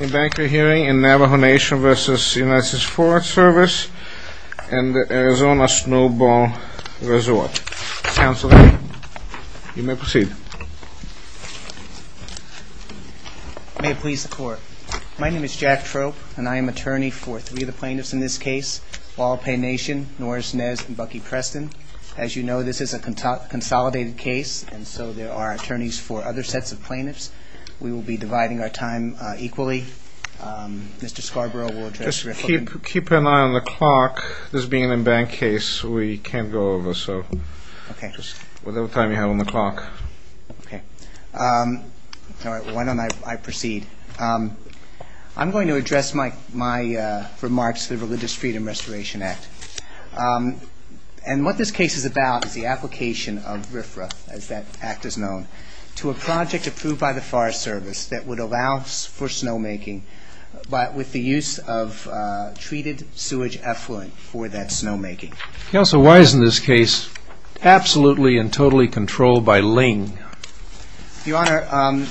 In banker hearing in Navajo Nation v. USFS and Arizona Snowball Resort. Counselor, you may proceed. May it please the court. My name is Jack Trope and I am attorney for three of the plaintiffs in this case. Walpae Nation, Norris Nez, and Bucky Preston. As you know, this is a consolidated case and so there are attorneys for other sets of plaintiffs. We will be dividing our time equally. Mr. Scarborough will address RFRA. Just keep an eye on the clock. This being an in-bank case, we can't go over, so whatever time you have on the clock. Okay. All right, why don't I proceed. I'm going to address my remarks to the Religious Freedom Restoration Act. And what this case is about is the application of RFRA, as that act is known, to a project approved by the Forest Service that would allow for snowmaking with the use of treated sewage effluent for that snowmaking. Counsel, why isn't this case absolutely and totally controlled by LING? Your Honor,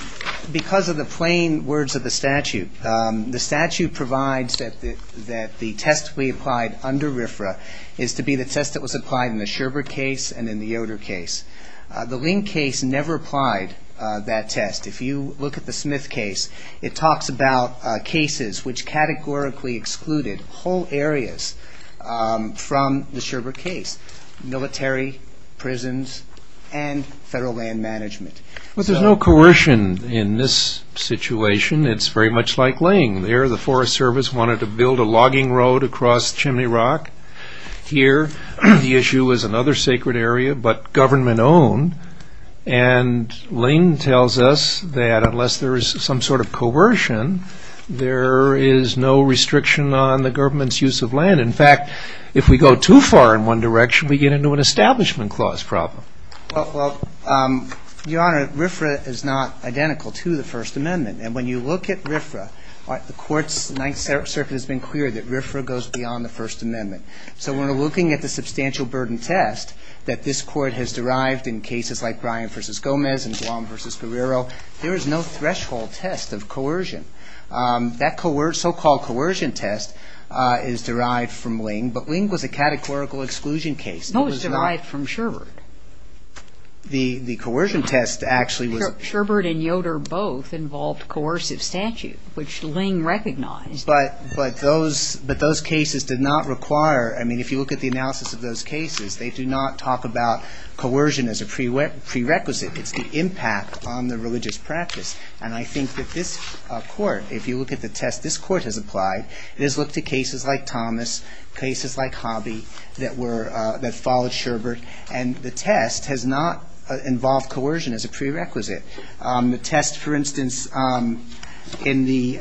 because of the plain words of the statute. The statute provides that the test we applied under RFRA is to be the test that was applied in the Sherbert case and in the Yoder case. The LING case never applied that test. If you look at the Smith case, it talks about cases which categorically excluded whole areas from the Sherbert case, military, prisons, and federal land management. Well, there's no coercion in this situation. It's very much like LING. There the Forest Service wanted to build a logging road across Chimney Rock. Here the issue is another sacred area, but government-owned. And LING tells us that unless there is some sort of coercion, there is no restriction on the government's use of land. In fact, if we go too far in one direction, we get into an establishment clause problem. Well, Your Honor, RFRA is not identical to the First Amendment. And when you look at RFRA, the court's Ninth Circuit has been clear that RFRA goes beyond the First Amendment. So when we're looking at the substantial burden test that this court has derived in cases like Bryan v. Gomez and Guam v. Guerrero, there is no threshold test of coercion. That so-called coercion test is derived from LING, but LING was a categorical exclusion case. No, it was derived from Sherbert. The coercion test actually was ---- Sherbert and Yoder both involved coercive statute, which LING recognized. But those cases did not require ---- I mean, if you look at the analysis of those cases, they do not talk about coercion as a prerequisite. It's the impact on the religious practice. And I think that this court, if you look at the test this court has applied, it has looked at cases like Thomas, cases like Hobby that followed Sherbert, and the test has not involved coercion as a prerequisite. The test, for instance, in the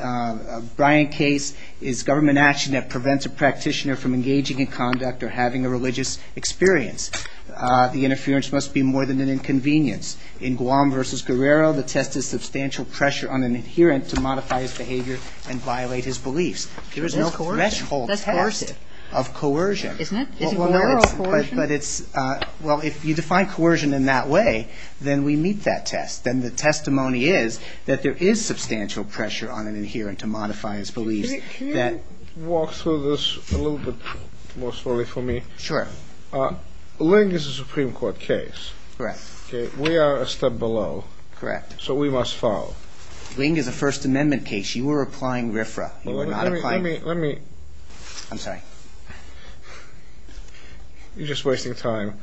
Bryan case, is government action that prevents a practitioner from engaging in conduct or having a religious experience. The interference must be more than an inconvenience. In Guam v. Guerrero, the test is substantial pressure on an adherent to modify his behavior and violate his beliefs. There is no threshold test of coercion. Isn't it? But it's ---- Well, if you define coercion in that way, then we meet that test. Then the testimony is that there is substantial pressure on an adherent to modify his beliefs. Can you walk through this a little bit more slowly for me? Sure. LING is a Supreme Court case. Correct. We are a step below. Correct. So we must follow. LING is a First Amendment case. You are applying RFRA. You are not applying ---- Let me, let me. I'm sorry. You're just wasting time.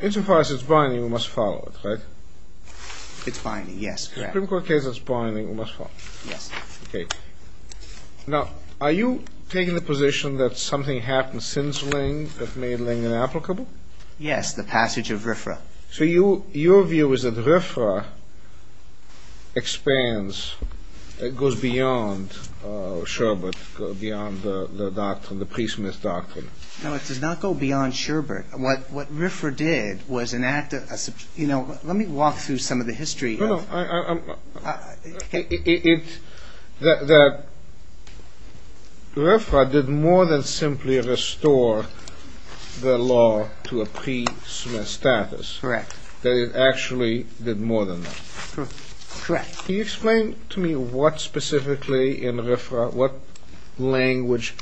Insofar as it's binding, we must follow it, right? It's binding, yes. A Supreme Court case that's binding, we must follow. Yes. Okay. Now, are you taking the position that something happened since LING that made LING inapplicable? Yes, the passage of RFRA. So your view is that RFRA expands, goes beyond Sherbert, beyond the doctrine, the priest-myth doctrine. No, it does not go beyond Sherbert. What RFRA did was enact a, you know, let me walk through some of the history of ---- No, no. It, that RFRA did more than simply restore the law to a priest-myth status. Correct. It actually did more than that. Correct. Can you explain to me what specifically in RFRA, what language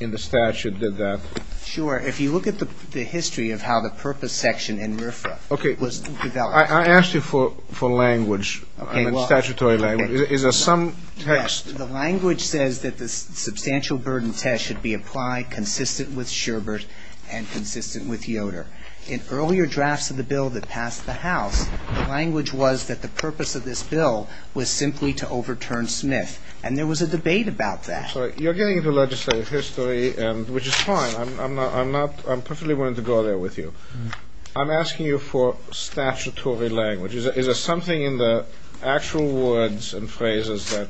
in the statute did that? Sure. If you look at the history of how the purpose section in RFRA was developed ---- Okay. I asked you for language. Okay. Statutory language. Is there some text? Yes. The language says that the substantial burden test should be applied consistent with Sherbert and consistent with Yoder. In earlier drafts of the bill that passed the House, the language was that the purpose of this bill was simply to overturn Smith. And there was a debate about that. You're getting into legislative history, which is fine. I'm not, I'm perfectly willing to go there with you. I'm asking you for statutory language. Is there something in the actual words and phrases that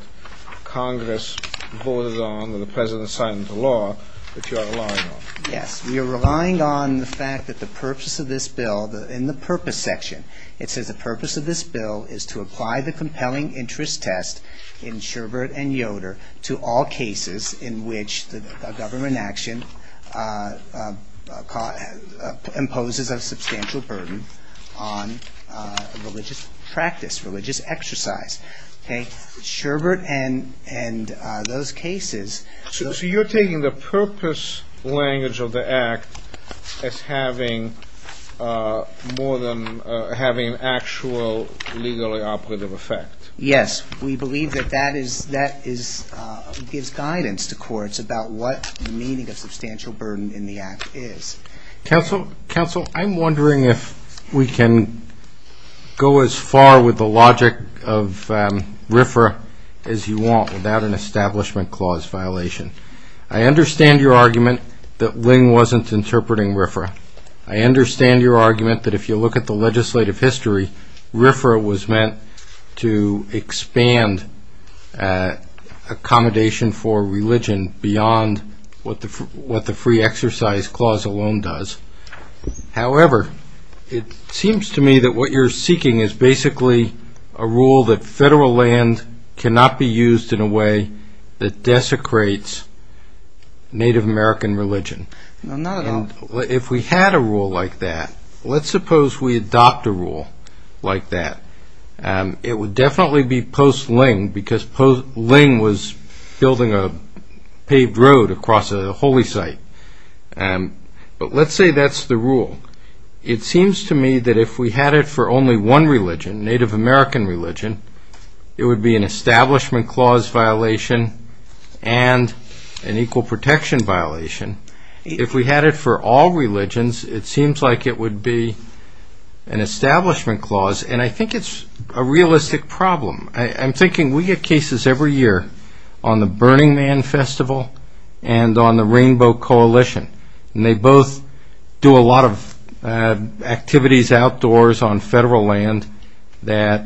Congress voted on or the President signed into law that you are relying on? Yes. We are relying on the fact that the purpose of this bill, in the purpose section, it says the purpose of this bill is to apply the compelling interest test in Sherbert and Yoder to all cases in which a government action imposes a substantial burden on religious practice, religious exercise. Sherbert and those cases ---- So you're taking the purpose language of the act as having more than, having an actual legally operative effect. Yes. We believe that that gives guidance to courts about what the meaning of substantial burden in the act is. Counsel, I'm wondering if we can go as far with the logic of RFRA as you want without an establishment clause violation. I understand your argument that Ling wasn't interpreting RFRA. I understand your argument that if you look at the legislative history, RFRA was meant to expand accommodation for religion beyond what the free exercise clause alone does. However, it seems to me that what you're seeking is basically a rule that federal land cannot be used in a way that desecrates Native American religion. No, not at all. If we had a rule like that, let's suppose we adopt a rule like that. It would definitely be post-Ling because Ling was building a paved road across a holy site. But let's say that's the rule. It seems to me that if we had it for only one religion, Native American religion, it would be an establishment clause violation and an equal protection violation. If we had it for all religions, it seems like it would be an establishment clause, and I think it's a realistic problem. I'm thinking we get cases every year on the Burning Man Festival and on the Rainbow Coalition, and they both do a lot of activities outdoors on federal land that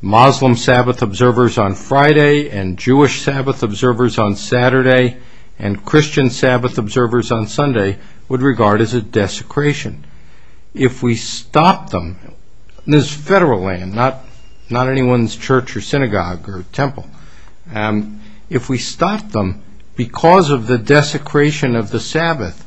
Muslim Sabbath observers on Friday and Jewish Sabbath observers on Saturday and Christian Sabbath observers on Sunday would regard as a desecration. If we stop them, and this is federal land, not anyone's church or synagogue or temple, if we stop them because of the desecration of the Sabbath,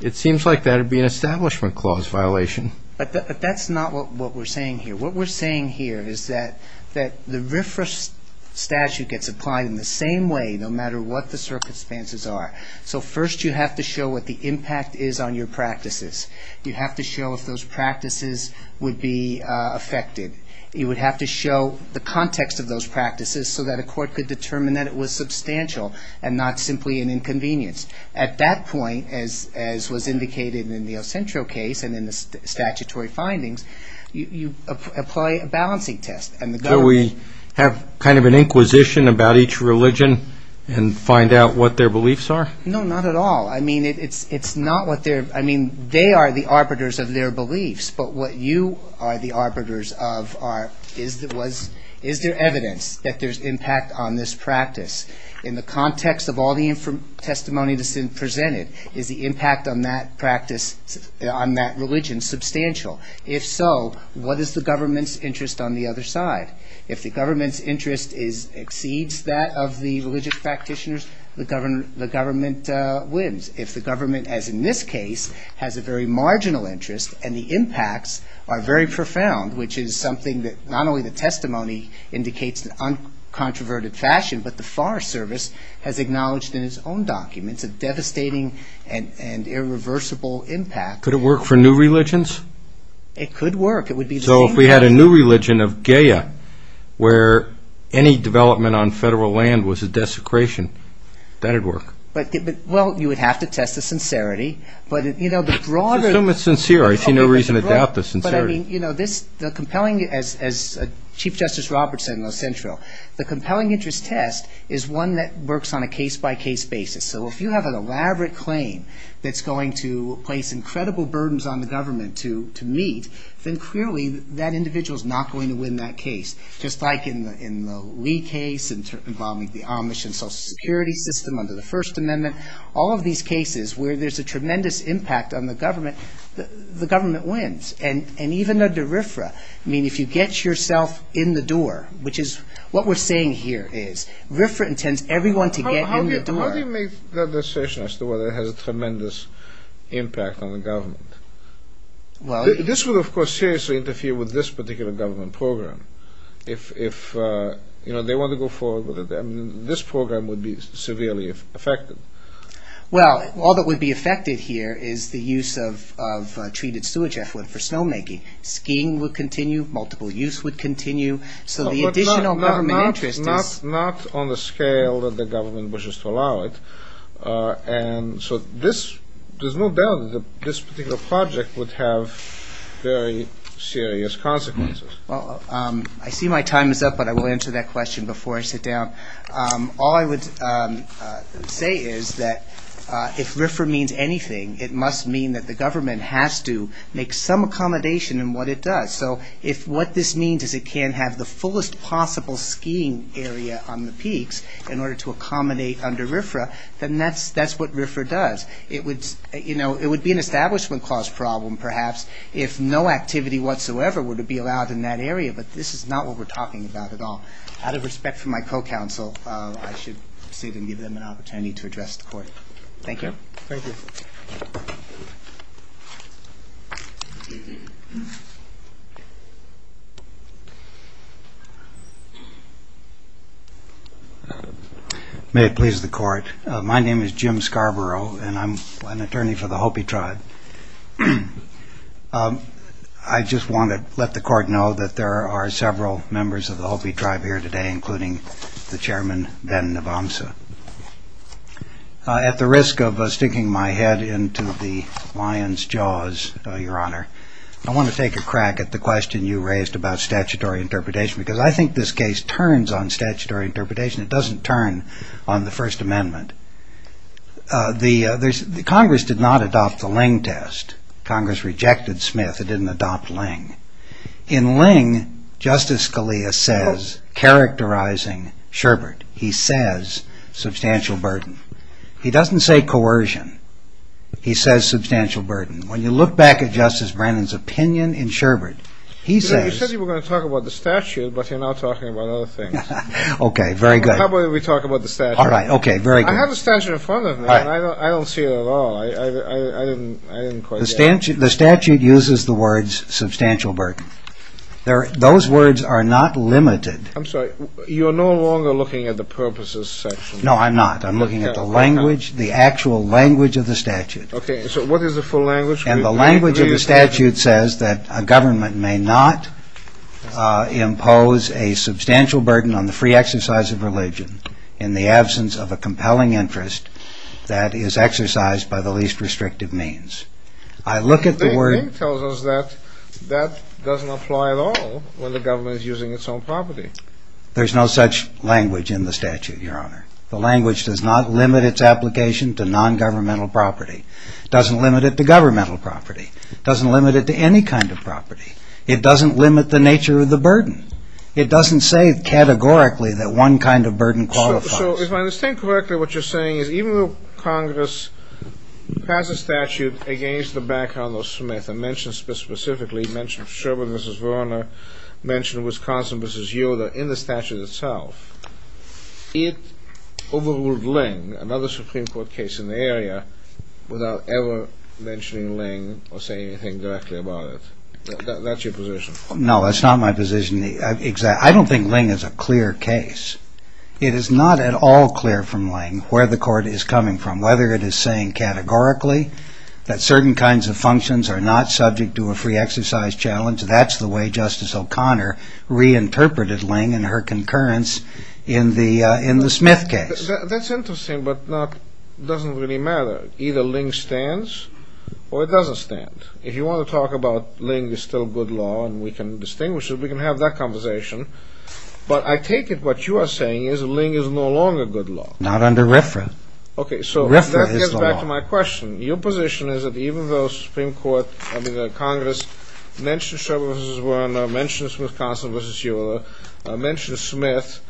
it seems like that would be an establishment clause violation. But that's not what we're saying here. What we're saying here is that the RFRA statute gets applied in the same way, no matter what the circumstances are. So first you have to show what the impact is on your practices. You have to show if those practices would be affected. You would have to show the context of those practices so that a court could determine that it was substantial and not simply an inconvenience. At that point, as was indicated in the Ocentro case and in the statutory findings, you apply a balancing test. So we have kind of an inquisition about each religion and find out what their beliefs are? No, not at all. I mean, they are the arbiters of their beliefs, but what you are the arbiters of is, is there evidence that there's impact on this practice? In the context of all the testimony that's been presented, is the impact on that practice, on that religion, substantial? If so, what is the government's interest on the other side? If the government's interest exceeds that of the religious practitioners, the government wins. If the government, as in this case, has a very marginal interest and the impacts are very profound, which is something that not only the testimony indicates in an uncontroverted fashion, but the Forest Service has acknowledged in its own documents, a devastating and irreversible impact. Could it work for new religions? It could work. So if we had a new religion of Gaia, where any development on federal land was a desecration, that would work? Well, you would have to test the sincerity. Assume it's sincere. I see no reason to doubt the sincerity. As Chief Justice Roberts said in Los Angeles, the compelling interest test is one that works on a case-by-case basis. So if you have an elaborate claim that's going to place incredible burdens on the government to meet, then clearly that individual is not going to win that case. Just like in the Lee case involving the Amish and Social Security system under the First Amendment, all of these cases where there's a tremendous impact on the government, the government wins. And even under RFRA, I mean, if you get yourself in the door, which is what we're saying here is RFRA intends everyone to get in the door. How do you make that decision as to whether it has a tremendous impact on the government? This would, of course, seriously interfere with this particular government program. If they want to go forward with it, this program would be severely affected. Well, all that would be affected here is the use of treated sewage effluent for snowmaking. Skiing would continue. Multiple use would continue. So the additional government interest is... Not on the scale that the government wishes to allow it. So there's no doubt that this particular project would have very serious consequences. I see my time is up, but I will answer that question before I sit down. All I would say is that if RFRA means anything, it must mean that the government has to make some accommodation in what it does. So if what this means is it can't have the fullest possible skiing area on the peaks in order to accommodate under RFRA, then that's what RFRA does. It would be an establishment cost problem, perhaps, if no activity whatsoever were to be allowed in that area. But this is not what we're talking about at all. Out of respect for my co-counsel, I should sit and give them an opportunity to address the court. Thank you. Thank you. May it please the court. My name is Jim Scarborough, and I'm an attorney for the Hopi tribe. I just want to let the court know that there are several members of the Hopi tribe here today, including the chairman, Ben Navamsa. At the risk of sticking my head into the lion's jaws, Your Honor, I want to take a crack at the question you raised about statutory interpretation, because I think this case turns on statutory interpretation. It doesn't turn on the First Amendment. Congress did not adopt the Ling test. Congress rejected Smith. It didn't adopt Ling. In Ling, Justice Scalia says, characterizing Sherbert, he says substantial burden. He doesn't say coercion. He says substantial burden. When you look back at Justice Brennan's opinion in Sherbert, he says… You said you were going to talk about the statute, but you're now talking about other things. Okay. Very good. How about we talk about the statute? All right. Okay. Very good. I have a statute in front of me, and I don't see it at all. I didn't quite get it. The statute uses the words substantial burden. Those words are not limited. I'm sorry. You're no longer looking at the purposes section. No, I'm not. I'm looking at the language, the actual language of the statute. Okay. So what is the full language? And the language of the statute says that a government may not impose a substantial burden on the free exercise of religion in the absence of a compelling interest that is exercised by the least restrictive means. I look at the word… But Ling tells us that that doesn't apply at all when the government is using its own property. There's no such language in the statute, Your Honor. The language does not limit its application to nongovernmental property. It doesn't limit it to governmental property. It doesn't limit it to any kind of property. It doesn't limit the nature of the burden. It doesn't say categorically that one kind of burden qualifies. So if I understand correctly, what you're saying is even though Congress passed a statute against the backhand of Smith and mentioned specifically, mentioned Sherman v. Verner, mentioned Wisconsin v. Yoder in the statute itself, it overruled Ling, another Supreme Court case in the area, without ever mentioning Ling or saying anything directly about it. That's your position. No, that's not my position. I don't think Ling is a clear case. It is not at all clear from Ling where the court is coming from, whether it is saying categorically that certain kinds of functions are not subject to a free exercise challenge. That's the way Justice O'Connor reinterpreted Ling and her concurrence in the Smith case. That's interesting, but it doesn't really matter. Either Ling stands or it doesn't stand. If you want to talk about Ling is still good law and we can distinguish it, we can have that conversation. But I take it what you are saying is Ling is no longer good law. Not under RFRA. Okay, so that gets back to my question. Your position is that even though Congress mentioned Sherman v. Verner, mentioned Wisconsin v. Yoder, mentioned Smith,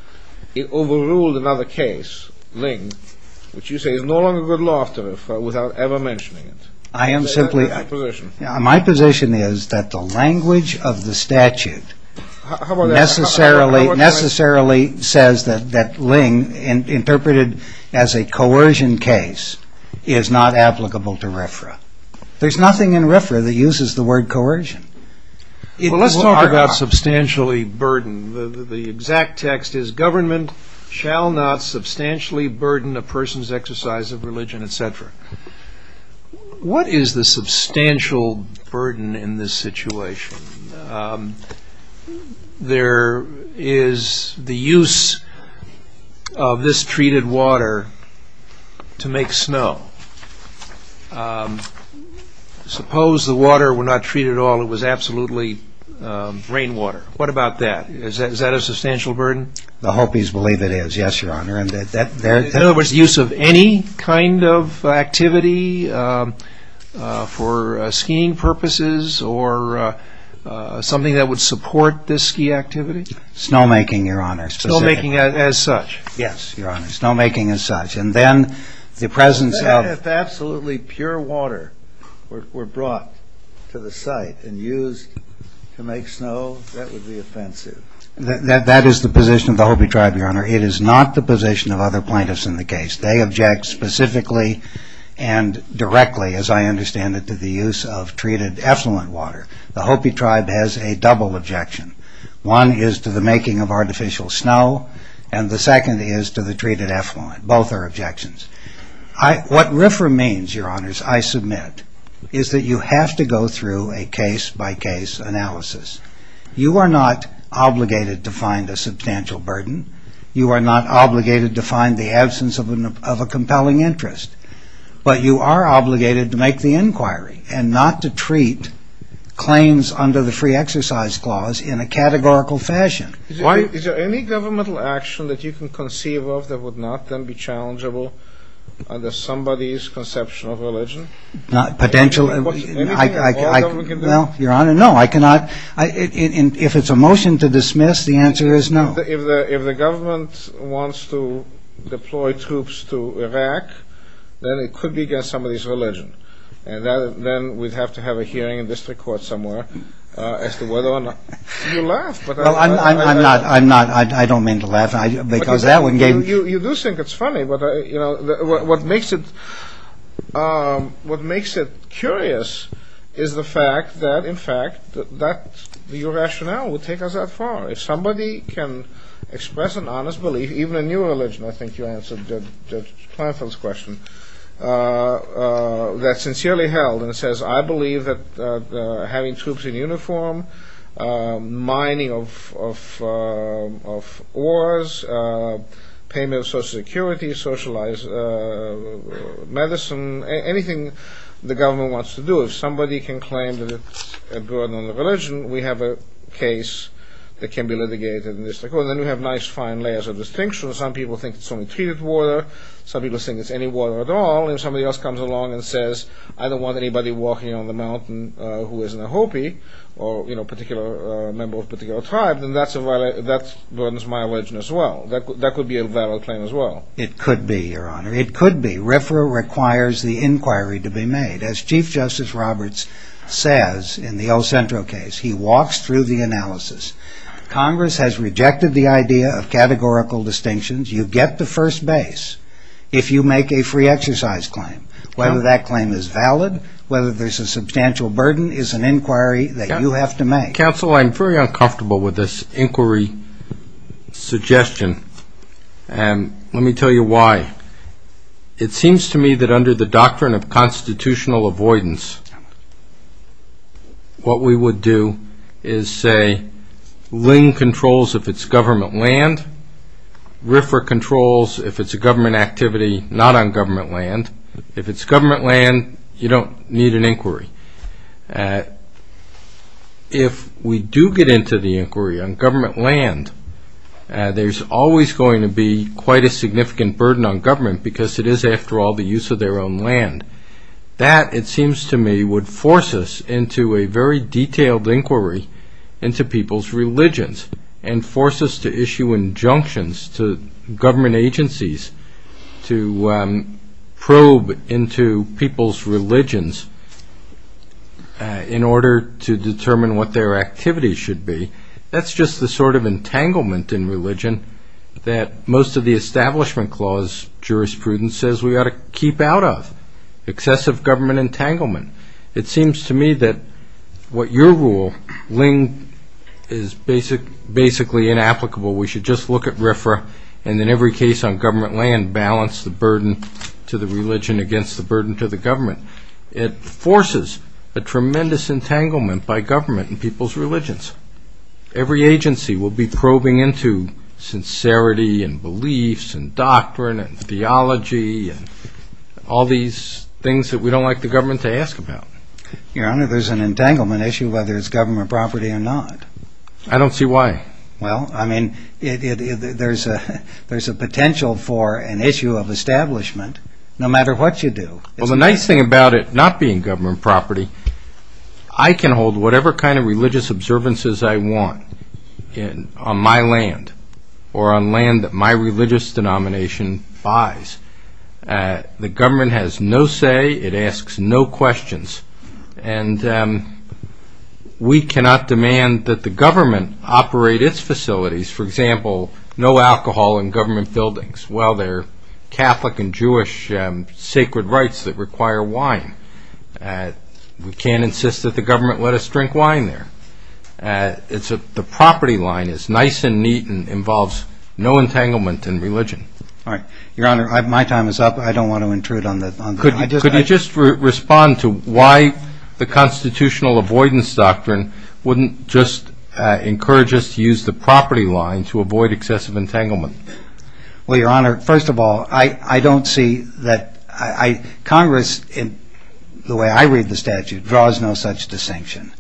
it overruled another case, Ling, which you say is no longer good law without ever mentioning it. Is that your position? My position is that the language of the statute necessarily says that Ling, interpreted as a coercion case, is not applicable to RFRA. There is nothing in RFRA that uses the word coercion. Let's talk about substantially burden. The exact text is government shall not substantially burden a person's exercise of religion, etc. What is the substantial burden in this situation? There is the use of this treated water to make snow. Suppose the water were not treated at all, it was absolutely rainwater. What about that? Is that a substantial burden? In other words, use of any kind of activity for skiing purposes or something that would support this ski activity? Snowmaking, Your Honor. Snowmaking as such? Yes, Your Honor. Snowmaking as such. And then the presence of What if absolutely pure water were brought to the site and used to make snow? That would be offensive. That is the position of the Hopi tribe, Your Honor. It is not the position of other plaintiffs in the case. They object specifically and directly, as I understand it, to the use of treated effluent water. The Hopi tribe has a double objection. One is to the making of artificial snow, and the second is to the treated effluent. Both are objections. What RFRA means, Your Honors, I submit, is that you have to go through a case-by-case analysis. You are not obligated to find a substantial burden. You are not obligated to find the absence of a compelling interest. But you are obligated to make the inquiry and not to treat claims under the Free Exercise Clause in a categorical fashion. Is there any governmental action that you can conceive of that would not then be challengeable under somebody's conception of religion? Potentially. Well, Your Honor, no. I cannot. If it's a motion to dismiss, the answer is no. If the government wants to deploy troops to Iraq, then it could be against somebody's religion. And then we'd have to have a hearing in district court somewhere as to whether or not you laughed. I'm not. I don't mean to laugh. Because that one gave me. You do think it's funny. What makes it curious is the fact that, in fact, your rationale would take us that far. If somebody can express an honest belief, even in your religion, I think you answered Judge Planfield's question, that's sincerely held. And it says, I believe that having troops in uniform, mining of ores, payment of Social Security, socialized medicine, anything the government wants to do. If somebody can claim that it's a burden on the religion, we have a case that can be litigated in district court. And then we have nice, fine layers of distinction. Some people think it's only treated water. Some people think it's any water at all. If somebody else comes along and says, I don't want anybody walking on the mountain who isn't a Hopi or a member of a particular tribe, then that burdens my religion as well. That could be a valid claim as well. It could be, Your Honor. It could be. RFRA requires the inquiry to be made. As Chief Justice Roberts says in the El Centro case, he walks through the analysis. Congress has rejected the idea of categorical distinctions. You get the first base. If you make a free exercise claim, whether that claim is valid, whether there's a substantial burden is an inquiry that you have to make. Counsel, I'm very uncomfortable with this inquiry suggestion. And let me tell you why. It seems to me that under the doctrine of constitutional avoidance, what we would do is say Lynn controls if it's government land. RFRA controls if it's a government activity not on government land. If it's government land, you don't need an inquiry. If we do get into the inquiry on government land, there's always going to be quite a significant burden on government because it is, after all, the use of their own land. That, it seems to me, would force us into a very detailed inquiry into people's religions and force us to issue injunctions to government agencies to probe into people's religions in order to determine what their activities should be. That's just the sort of entanglement in religion that most of the Establishment Clause jurisprudence says we ought to keep out of, excessive government entanglement. It seems to me that what your rule, Lynn, is basically inapplicable. We should just look at RFRA and in every case on government land, balance the burden to the religion against the burden to the government. It forces a tremendous entanglement by government and people's religions. Every agency will be probing into sincerity and beliefs and doctrine and theology and all these things that we don't like the government to ask about. Your Honor, there's an entanglement issue whether it's government property or not. I don't see why. Well, I mean, there's a potential for an issue of establishment no matter what you do. Well, the nice thing about it not being government property, I can hold whatever kind of religious observances I want on my land or on land that my religious denomination buys. The government has no say. It asks no questions, and we cannot demand that the government operate its facilities. For example, no alcohol in government buildings. Well, there are Catholic and Jewish sacred rites that require wine. We can't insist that the government let us drink wine there. The property line is nice and neat and involves no entanglement in religion. All right. Your Honor, my time is up. I don't want to intrude on that. Could you just respond to why the constitutional avoidance doctrine wouldn't just encourage us to use the property line to avoid excessive entanglement? Well, Your Honor, first of all, I don't see that Congress, the way I read the statute, draws no such distinction.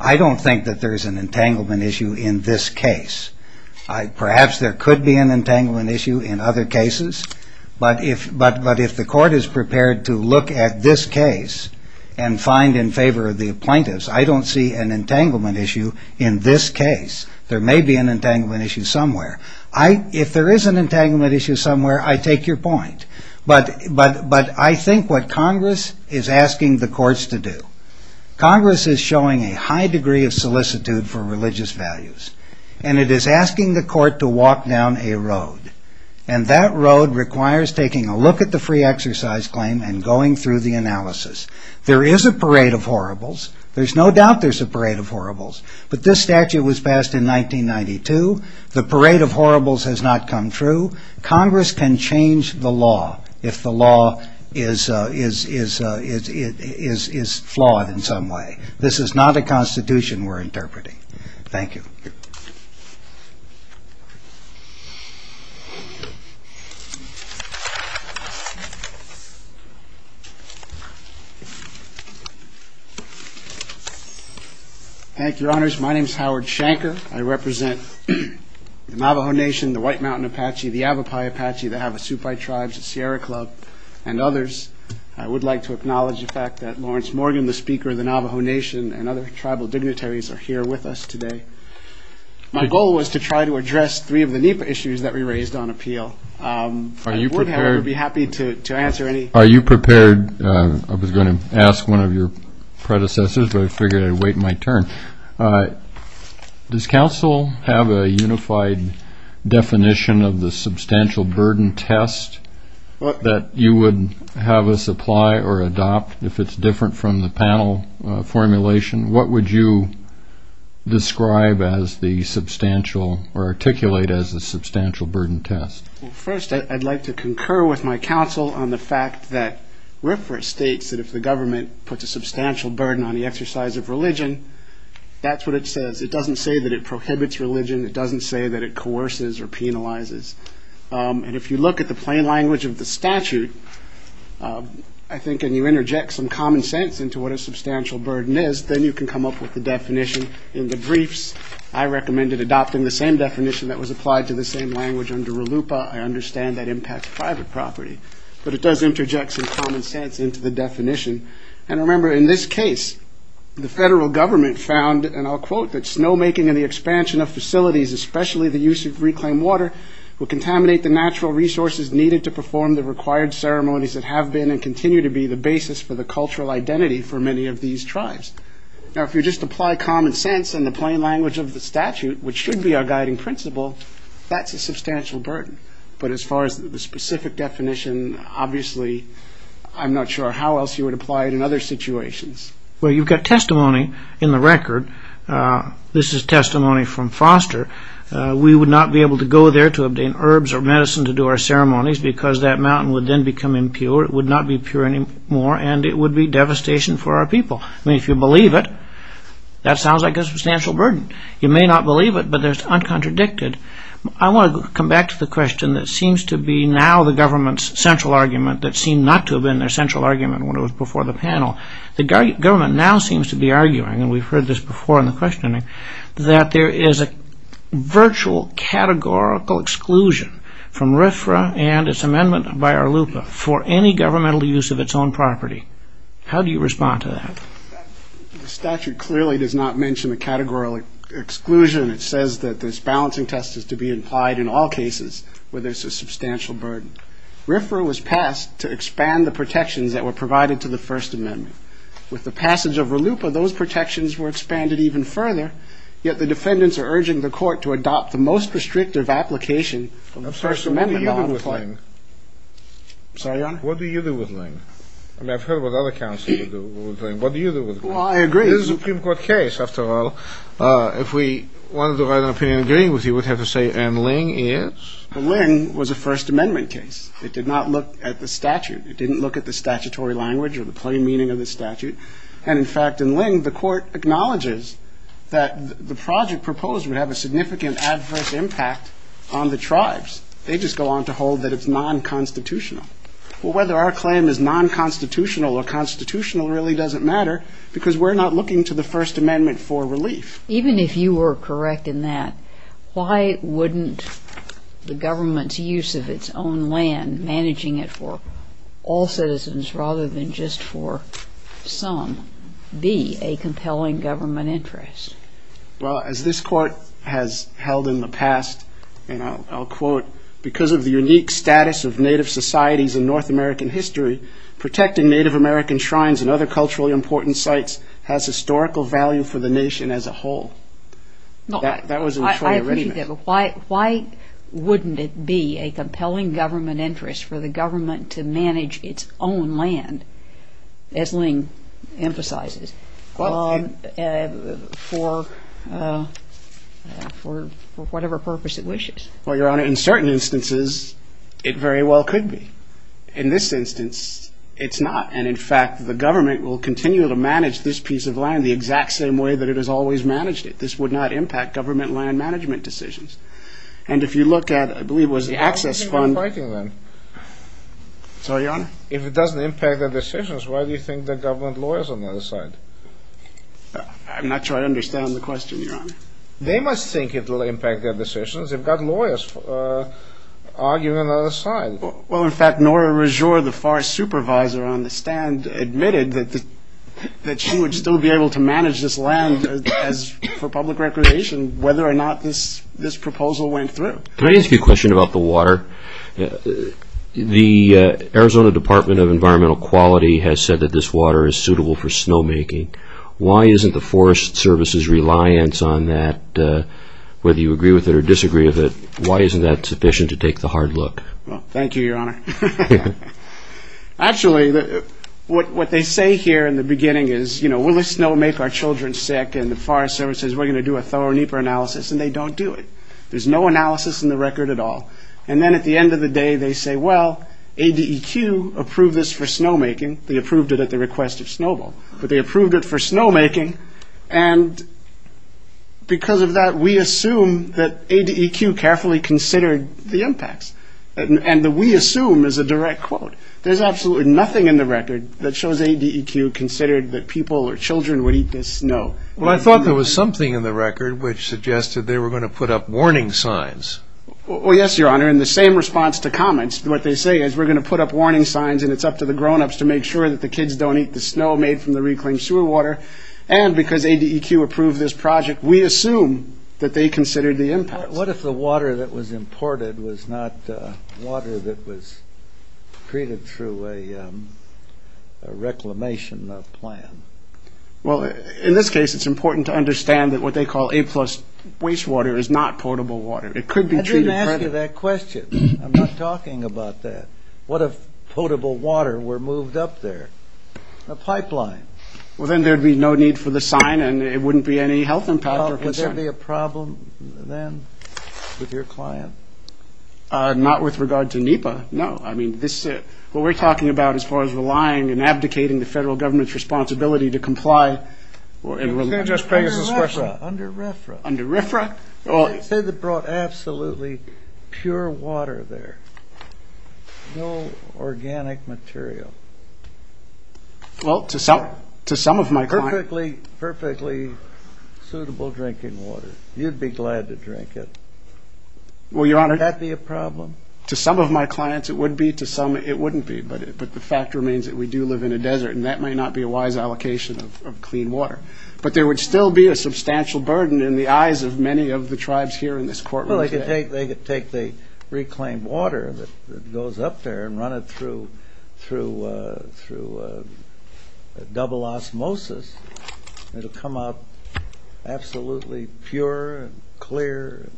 I don't think that there is an entanglement issue in this case. Perhaps there could be an entanglement issue in other cases. But if the court is prepared to look at this case and find in favor of the plaintiffs, I don't see an entanglement issue in this case. There may be an entanglement issue somewhere. If there is an entanglement issue somewhere, I take your point. But I think what Congress is asking the courts to do, Congress is showing a high degree of solicitude for religious values. And it is asking the court to walk down a road. And that road requires taking a look at the free exercise claim and going through the analysis. There is a parade of horribles. There's no doubt there's a parade of horribles. But this statute was passed in 1992. The parade of horribles has not come true. Congress can change the law if the law is flawed in some way. This is not a constitution we're interpreting. Thank you. Thank you. Thank you, Your Honors. My name is Howard Shanker. I represent the Navajo Nation, the White Mountain Apache, the Avapai Apache, the Havasupai Tribes, the Sierra Club, and others. I would like to acknowledge the fact that Lawrence Morgan, the Speaker of the Navajo Nation, and other tribal dignitaries are here with us today. My goal was to try to address three of the NEPA issues that we raised on appeal. Are you prepared? I would, however, be happy to answer any. Are you prepared? I was going to ask one of your predecessors, but I figured I'd wait my turn. Does counsel have a unified definition of the substantial burden test that you would have us apply or adopt if it's different from the panel formulation? What would you describe as the substantial or articulate as the substantial burden test? First, I'd like to concur with my counsel on the fact that RFRA states that if the government puts a substantial burden on the exercise of religion, that's what it says. It doesn't say that it prohibits religion. It doesn't say that it coerces or penalizes. And if you look at the plain language of the statute, I think, and you interject some common sense into what a substantial burden is, then you can come up with the definition in the briefs. I recommended adopting the same definition that was applied to the same language under RLUIPA. I understand that impacts private property, but it does interject some common sense into the definition. And remember, in this case, the federal government found, and I'll quote, that snowmaking and the expansion of facilities, especially the use of reclaimed water, will contaminate the natural resources needed to perform the required ceremonies that have been and continue to be the basis for the cultural identity for many of these tribes. Now, if you just apply common sense in the plain language of the statute, which should be our guiding principle, that's a substantial burden. But as far as the specific definition, obviously, I'm not sure how else you would apply it in other situations. Well, you've got testimony in the record. This is testimony from Foster. We would not be able to go there to obtain herbs or medicine to do our ceremonies because that mountain would then become impure. It would not be pure anymore, and it would be devastation for our people. I mean, if you believe it, that sounds like a substantial burden. You may not believe it, but there's uncontradicted. I want to come back to the question that seems to be now the government's central argument that seemed not to have been their central argument when it was before the panel. The government now seems to be arguing, and we've heard this before in the questioning, that there is a virtual categorical exclusion from RFRA and its amendment by RLUIPA for any governmental use of its own property. How do you respond to that? The statute clearly does not mention a categorical exclusion. It says that this balancing test is to be implied in all cases where there's a substantial burden. RFRA was passed to expand the protections that were provided to the First Amendment. With the passage of RLUIPA, those protections were expanded even further, yet the defendants are urging the court to adopt the most restrictive application of the First Amendment law. I'm sorry, sir, what do you do with Lange? I'm sorry, Your Honor? What do you do with Lange? I mean, I've heard what other counsels do with Lange. What do you do with Lange? Well, I agree. This is a Supreme Court case, after all. If we wanted to write an opinion agreeing with you, we'd have to say, and Lange is? Lange was a First Amendment case. It did not look at the statute. It didn't look at the statutory language or the plain meaning of the statute. And, in fact, in Lange, the court acknowledges that the project proposed would have a significant adverse impact on the tribes. They just go on to hold that it's non-constitutional. Well, whether our claim is non-constitutional or constitutional really doesn't matter because we're not looking to the First Amendment for relief. Even if you were correct in that, why wouldn't the government's use of its own land, managing it for all citizens rather than just for some, be a compelling government interest? Well, as this court has held in the past, and I'll quote, because of the unique status of Native societies in North American history, protecting Native American shrines and other culturally important sites has historical value for the nation as a whole. That was in the Troyer Regiment. Why wouldn't it be a compelling government interest for the government to manage its own land, as Lange emphasizes, for whatever purpose it wishes? Well, Your Honor, in certain instances, it very well could be. In this instance, it's not. And, in fact, the government will continue to manage this piece of land the exact same way that it has always managed it. This would not impact government land management decisions. And if you look at, I believe it was the Access Fund. Sorry, Your Honor? If it doesn't impact their decisions, why do you think there are government lawyers on the other side? I'm not sure I understand the question, Your Honor. They must think it will impact their decisions. They've got lawyers arguing on the other side. Well, in fact, Nora Rajour, the forest supervisor on the stand, admitted that she would still be able to manage this land for public recreation, whether or not this proposal went through. Can I ask you a question about the water? The Arizona Department of Environmental Quality has said that this water is suitable for snowmaking. Why isn't the Forest Service's reliance on that, whether you agree with it or disagree with it, why isn't that sufficient to take the hard look? Well, thank you, Your Honor. Actually, what they say here in the beginning is, you know, we'll let snow make our children sick, and the Forest Service says we're going to do a thorough NEPA analysis, and they don't do it. There's no analysis in the record at all. And then at the end of the day, they say, well, ADEQ approved this for snowmaking. They approved it at the request of Snowball, but they approved it for snowmaking. And because of that, we assume that ADEQ carefully considered the impacts. And the we assume is a direct quote. There's absolutely nothing in the record that shows ADEQ considered that people or children would eat this snow. Well, I thought there was something in the record which suggested they were going to put up warning signs. Well, yes, Your Honor. In the same response to comments, what they say is we're going to put up warning signs, and it's up to the grownups to make sure that the kids don't eat the snow made from the reclaimed sewer water. And because ADEQ approved this project, we assume that they considered the impacts. What if the water that was imported was not water that was created through a reclamation plan? Well, in this case, it's important to understand that what they call A-plus wastewater is not potable water. It could be treated. I didn't ask you that question. I'm not talking about that. What if potable water were moved up there, a pipeline? Well, then there'd be no need for the sign, and it wouldn't be any health impact. Well, would there be a problem then with your client? Not with regard to NEPA, no. I mean, what we're talking about as far as relying and abdicating the federal government's responsibility to comply. Under RFRA. Under RFRA? They said they brought absolutely pure water there, no organic material. Well, to some of my clients. Perfectly suitable drinking water. You'd be glad to drink it. Well, Your Honor. Would that be a problem? To some of my clients, it would be. To some, it wouldn't be. But the fact remains that we do live in a desert, and that may not be a wise allocation of clean water. But there would still be a substantial burden in the eyes of many of the tribes here in this courtroom today. Well, they could take the reclaimed water that goes up there and run it through double osmosis, and it'll come out absolutely pure and clear and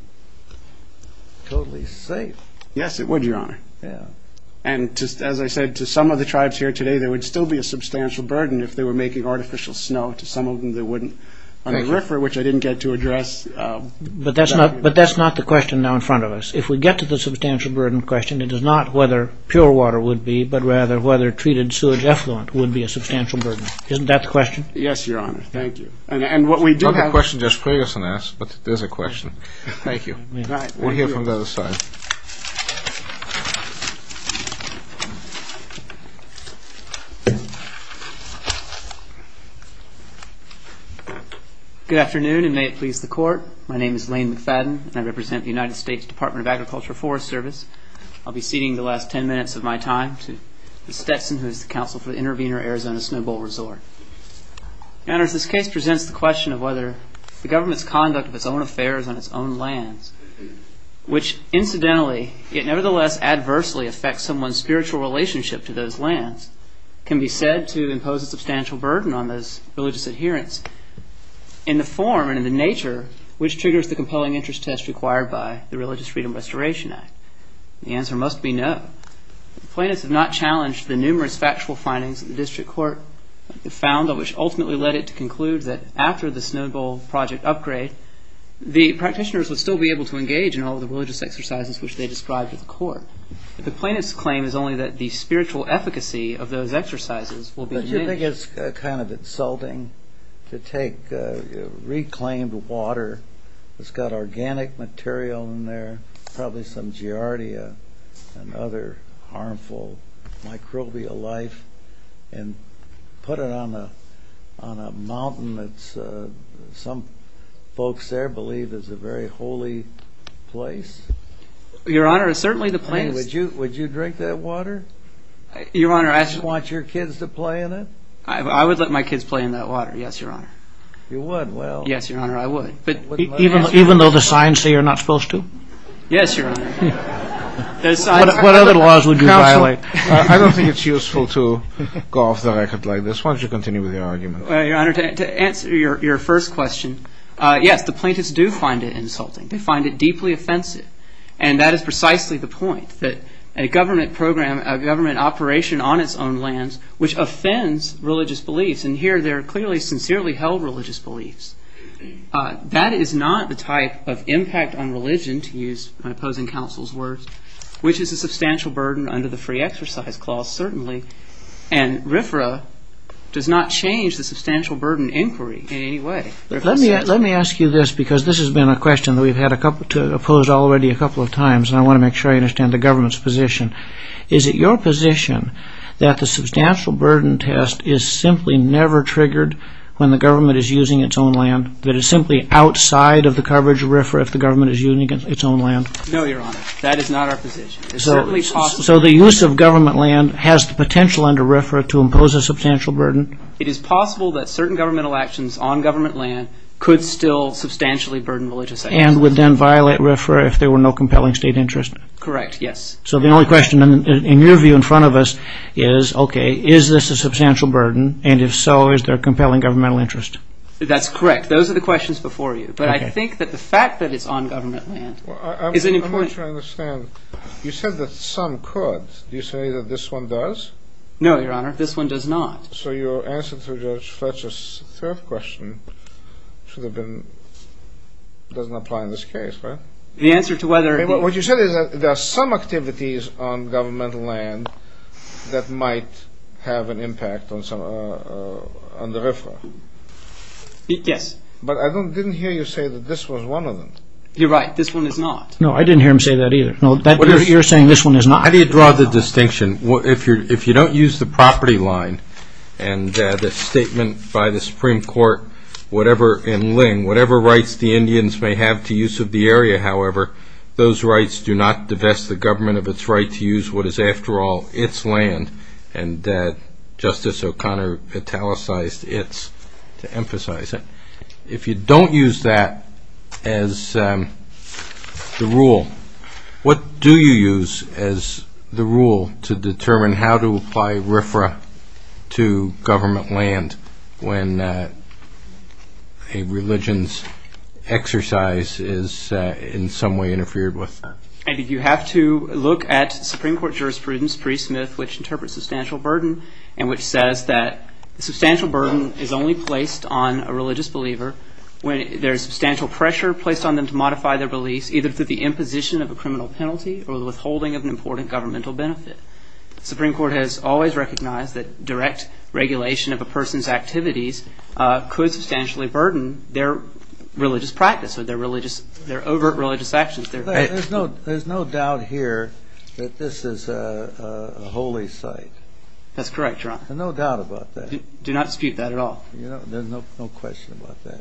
totally safe. Yes, it would, Your Honor. And as I said, to some of the tribes here today, there would still be a substantial burden if they were making artificial snow. To some of them, they wouldn't. Under RFRA, which I didn't get to address. But that's not the question now in front of us. If we get to the substantial burden question, it is not whether pure water would be, but rather whether treated sewage effluent would be a substantial burden. Isn't that the question? Yes, Your Honor. Thank you. And what we do have to ask. It's not the question Josh Ferguson asked, but it is a question. Thank you. We'll hear from the other side. Good afternoon, and may it please the court. My name is Lane McFadden, and I represent the United States Department of Agriculture Forest Service. I'll be ceding the last 10 minutes of my time to Ms. Stetson, who is the counsel for the Intervenor Arizona Snow Bowl Resort. Your Honor, this case presents the question of whether the government's conduct of its own affairs on its own lands, which incidentally, yet nevertheless adversely affects someone's spiritual relationship to those lands, can be said to impose a substantial burden on those religious adherents in the form and in the nature which triggers the compelling interest test required by the Religious Freedom Restoration Act. The answer must be no. The plaintiffs have not challenged the numerous factual findings that the district court found, which ultimately led it to conclude that after the Snow Bowl project upgrade, the practitioners would still be able to engage in all the religious exercises which they described at the court. The plaintiff's claim is only that the spiritual efficacy of those exercises will be diminished. Don't you think it's kind of insulting to take reclaimed water that's got organic material in there, probably some giardia and other harmful microbial life, and put it on a mountain that some folks there believe is a very holy place? Your Honor, certainly the plaintiffs... Would you drink that water? Your Honor, I... Would you want your kids to play in it? I would let my kids play in that water, yes, Your Honor. You would? Well... Yes, Your Honor, I would. Even though the signs say you're not supposed to? Yes, Your Honor. What other laws would you violate? I don't think it's useful to go off the record like this. Why don't you continue with your argument? Well, Your Honor, to answer your first question, yes, the plaintiffs do find it insulting. They find it deeply offensive. And that is precisely the point, that a government program, a government operation on its own lands, which offends religious beliefs, and here they're clearly, sincerely held religious beliefs. That is not the type of impact on religion, to use my opposing counsel's words, which is a substantial burden under the Free Exercise Clause, certainly. And RFRA does not change the substantial burden inquiry in any way. Let me ask you this, because this has been a question that we've had to oppose already a couple of times, and I want to make sure I understand the government's position. Is it your position that the substantial burden test is simply never triggered when the government is using its own land? That it's simply outside of the coverage of RFRA if the government is using its own land? No, Your Honor, that is not our position. So the use of government land has the potential under RFRA to impose a substantial burden? It is possible that certain governmental actions on government land could still substantially burden religious ideas. And would then violate RFRA if there were no compelling state interest? Correct, yes. So the only question in your view in front of us is, okay, is this a substantial burden? And if so, is there a compelling governmental interest? That's correct. Those are the questions before you. But I think that the fact that it's on government land is an important... I'm not sure I understand. You said that some could. Do you say that this one does? No, Your Honor, this one does not. So your answer to Judge Fletcher's third question should have been, doesn't apply in this case, right? The answer to whether... What you said is that there are some activities on governmental land that might have an impact on the RFRA. Yes. But I didn't hear you say that this was one of them. You're right. This one is not. No, I didn't hear him say that either. You're saying this one is not. How do you draw the distinction? If you don't use the property line and the statement by the Supreme Court in Ling, whatever rights the Indians may have to use of the area, however, those rights do not divest the government of its right to use what is, after all, its land. And Justice O'Connor italicized its to emphasize it. If you don't use that as the rule, what do you use as the rule to determine how to apply RFRA to government land when a religion's exercise is in some way interfered with? You have to look at Supreme Court jurisprudence pre-Smith which interprets substantial burden and which says that substantial burden is only placed on a religious believer when there is substantial pressure placed on them to modify their beliefs, either through the imposition of a criminal penalty or the withholding of an important governmental benefit. The Supreme Court has always recognized that direct regulation of a person's activities could substantially burden their religious practice or their overt religious actions. There's no doubt here that this is a holy site. That's correct, Your Honor. There's no doubt about that. Do not dispute that at all. There's no question about that.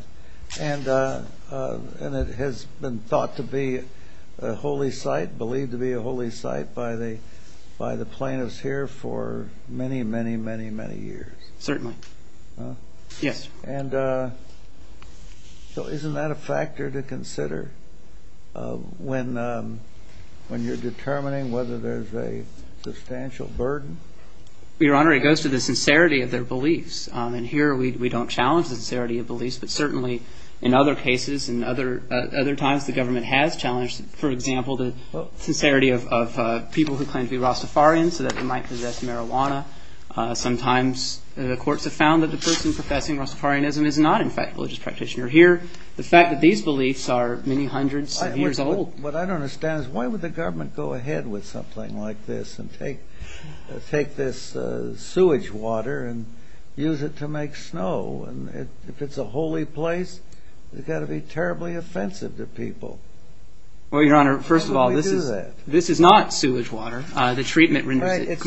And it has been thought to be a holy site, believed to be a holy site by the plaintiffs here for many, many, many, many years. Certainly. Yes. And so isn't that a factor to consider when you're determining whether there's a substantial burden? Your Honor, it goes to the sincerity of their beliefs. And here we don't challenge the sincerity of beliefs, but certainly in other cases and other times the government has challenged, for example, the sincerity of people who claim to be Rastafarian so that they might possess marijuana. Sometimes the courts have found that the person professing Rastafarianism is not, in fact, a religious practitioner. Here, the fact that these beliefs are many hundreds of years old. What I don't understand is why would the government go ahead with something like this and take this sewage water and use it to make snow? If it's a holy place, it's got to be terribly offensive to people. Well, Your Honor, first of all, this is not sewage water. The treatment renders it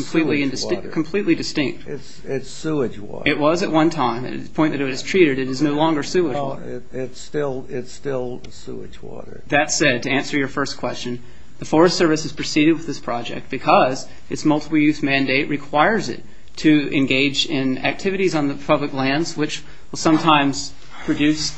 completely distinct. It's sewage water. It was at one time. At the point that it was treated, it is no longer sewage water. It's still sewage water. That said, to answer your first question, the Forest Service has proceeded with this project because its multiple use mandate requires it to engage in activities on the public lands, which will sometimes produce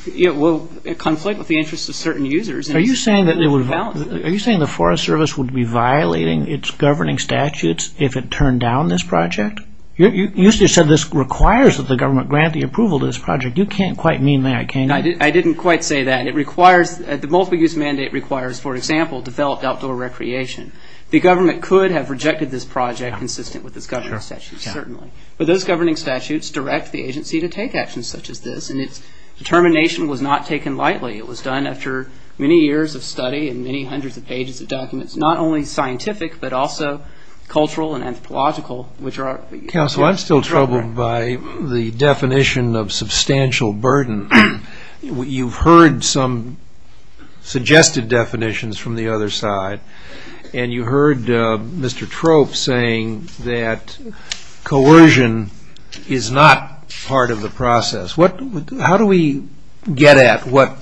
conflict with the interests of certain users. Are you saying the Forest Service would be violating its governing statutes if it turned down this project? You said this requires that the government grant the approval to this project. You can't quite mean that, can you? I didn't quite say that. The multiple use mandate requires, for example, developed outdoor recreation. The government could have rejected this project consistent with its governing statutes, certainly. But those governing statutes direct the agency to take actions such as this, and its determination was not taken lightly. It was done after many years of study and many hundreds of pages of documents, not only scientific but also cultural and anthropological. Counsel, I'm still troubled by the definition of substantial burden. You've heard some suggested definitions from the other side, and you heard Mr. Trope saying that coercion is not part of the process. How do we get at what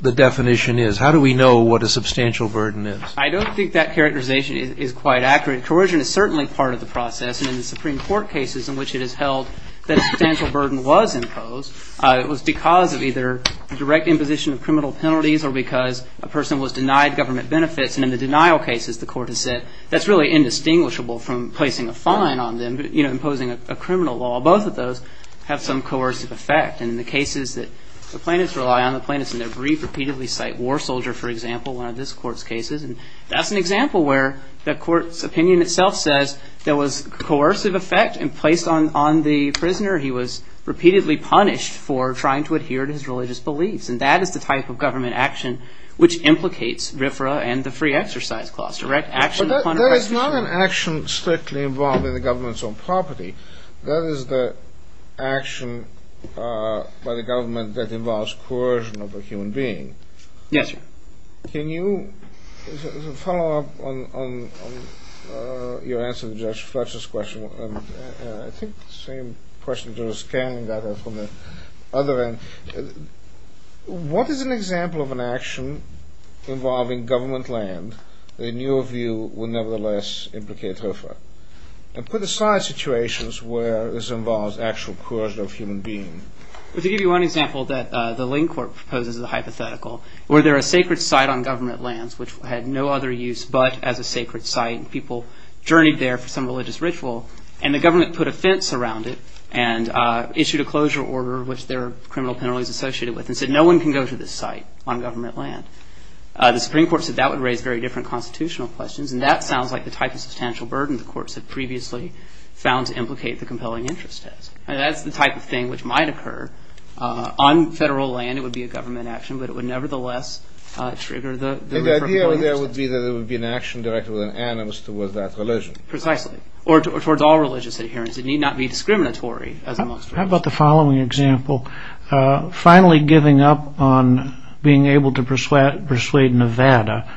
the definition is? How do we know what a substantial burden is? I don't think that characterization is quite accurate. Coercion is certainly part of the process, and in the Supreme Court cases in which it is held that a substantial burden was imposed, it was because of either direct imposition of criminal penalties or because a person was denied government benefits. And in the denial cases, the court has said, that's really indistinguishable from placing a fine on them, imposing a criminal law. Well, both of those have some coercive effect. And in the cases that the plaintiffs rely on, the plaintiffs in their brief repeatedly cite war soldier, for example, one of this court's cases. And that's an example where the court's opinion itself says there was coercive effect in place on the prisoner. He was repeatedly punished for trying to adhere to his religious beliefs. And that is the type of government action which implicates RFRA and the free exercise clause. Direct action upon a prosecution. But that is not an action strictly involved in the government's own property. That is the action by the government that involves coercion of a human being. Yes, sir. Can you follow up on your answer to Judge Fletcher's question? I think the same question to the scanning that I have from the other end. What is an example of an action involving government land that in your view would nevertheless implicate RFRA? And put aside situations where this involves actual coercion of a human being. Well, to give you one example that the Lane court proposes is a hypothetical. Were there a sacred site on government lands which had no other use but as a sacred site and people journeyed there for some religious ritual, and the government put a fence around it and issued a closure order which there are criminal penalties associated with and said no one can go to this site on government land. The Supreme Court said that would raise very different constitutional questions and that sounds like the type of substantial burden the courts had previously found to implicate the compelling interest test. And that's the type of thing which might occur on federal land. It would be a government action, but it would nevertheless trigger the RFRA. The idea there would be that it would be an action directed with an animus towards that religion. Precisely, or towards all religious adherence. It need not be discriminatory. How about the following example? Finally giving up on being able to persuade Nevada,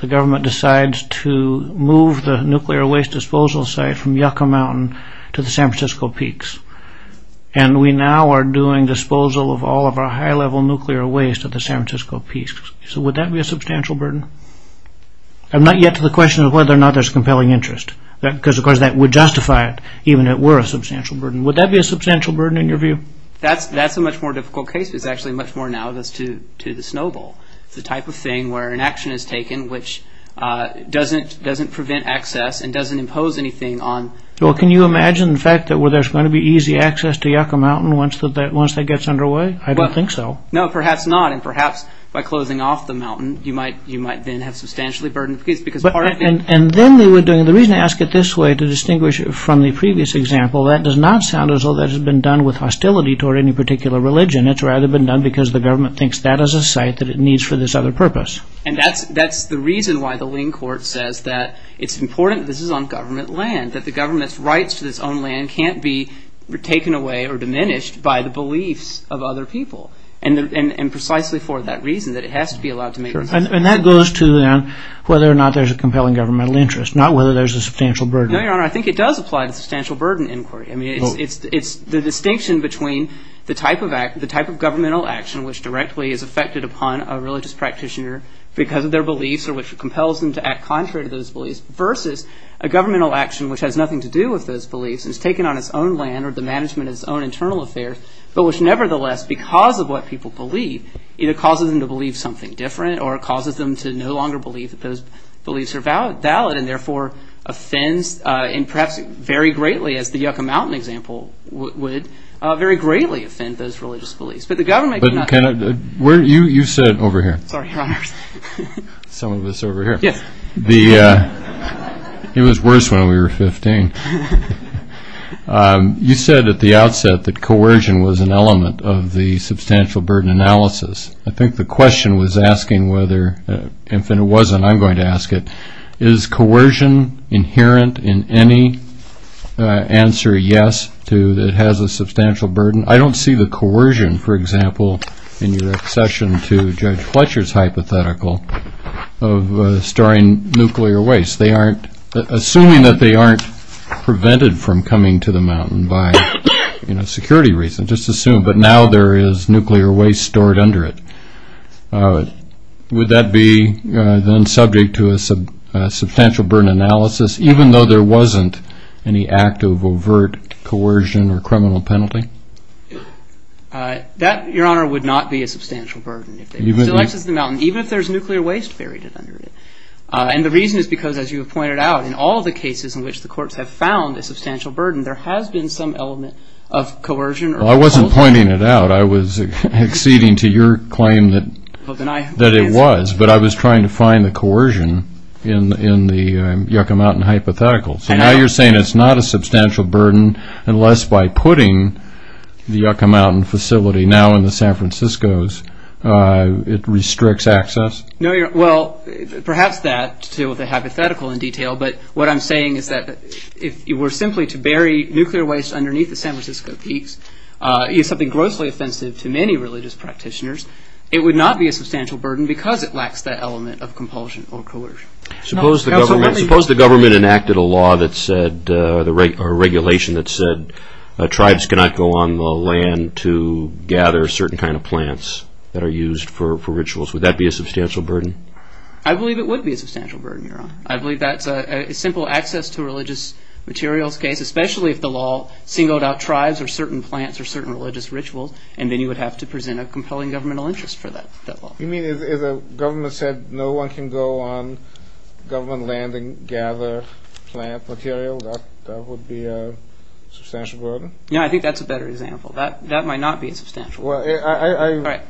the government decides to move the nuclear waste disposal site from Yucca Mountain to the San Francisco Peaks. And we now are doing disposal of all of our high-level nuclear waste at the San Francisco Peaks. So would that be a substantial burden? I'm not yet to the question of whether or not there's compelling interest. Because of course that would justify it, even if it were a substantial burden. Would that be a substantial burden in your view? That's a much more difficult case. It's actually much more analogous to the snowball. It's the type of thing where an action is taken which doesn't prevent access and doesn't impose anything on... Well, can you imagine the fact that there's going to be easy access to Yucca Mountain once that gets underway? I don't think so. No, perhaps not. And perhaps by closing off the mountain, you might then have substantially burdened... And then they were doing... The reason I ask it this way to distinguish from the previous example, that does not sound as though that has been done with hostility toward any particular religion. It's rather been done because the government thinks that as a site that it needs for this other purpose. And that's the reason why the lien court says that it's important that this is on government land, that the government's rights to its own land can't be taken away or diminished by the beliefs of other people. And precisely for that reason, that it has to be allowed to make... And that goes to whether or not there's a compelling governmental interest, not whether there's a substantial burden. No, Your Honor, I think it does apply to substantial burden inquiry. I mean, it's the distinction between the type of governmental action which directly is affected upon a religious practitioner because of their beliefs or which compels them to act contrary to those beliefs versus a governmental action which has nothing to do with those beliefs and is taken on its own land or the management of its own internal affairs, but which nevertheless, because of what people believe, either causes them to believe something different or causes them to no longer believe that those beliefs are valid and therefore offends and perhaps very greatly, as the Yucca Mountain example would, very greatly offend those religious beliefs. But the government cannot... You said over here... Sorry, Your Honor. Some of us over here. Yes. It was worse when we were 15. You said at the outset that coercion was an element of the substantial burden analysis. I think the question was asking whether, and if it wasn't, I'm going to ask it, is coercion inherent in any answer, yes, that has a substantial burden? I don't see the coercion, for example, in your accession to Judge Fletcher's hypothetical of storing nuclear waste. Assuming that they aren't prevented from coming to the mountain by security reasons, just assume, but now there is nuclear waste stored under it. Would that be then subject to a substantial burden analysis, even though there wasn't any act of overt coercion or criminal penalty? That, Your Honor, would not be a substantial burden. Even if there's nuclear waste buried under it. And the reason is because, as you have pointed out, in all the cases in which the courts have found a substantial burden, there has been some element of coercion. I wasn't pointing it out. I was acceding to your claim that it was, but I was trying to find the coercion in the Yucca Mountain hypothetical. So now you're saying it's not a substantial burden unless by putting the Yucca Mountain facility now in the San Francisco's, it restricts access? No, Your Honor. Well, perhaps that to deal with the hypothetical in detail, but what I'm saying is that if you were simply to bury nuclear waste underneath the San Francisco peaks, use something grossly offensive to many religious practitioners, it would not be a substantial burden because it lacks that element of compulsion or coercion. Suppose the government enacted a law or regulation that said tribes cannot go on the land to gather certain kind of plants that are used for rituals. Would that be a substantial burden? I believe it would be a substantial burden, Your Honor. I believe that's a simple access to religious materials case, especially if the law singled out tribes or certain plants or certain religious rituals, and then you would have to present a compelling governmental interest for that law. You mean if the government said no one can go on government land and gather plant material, that would be a substantial burden? Yeah, I think that's a better example. That might not be a substantial burden.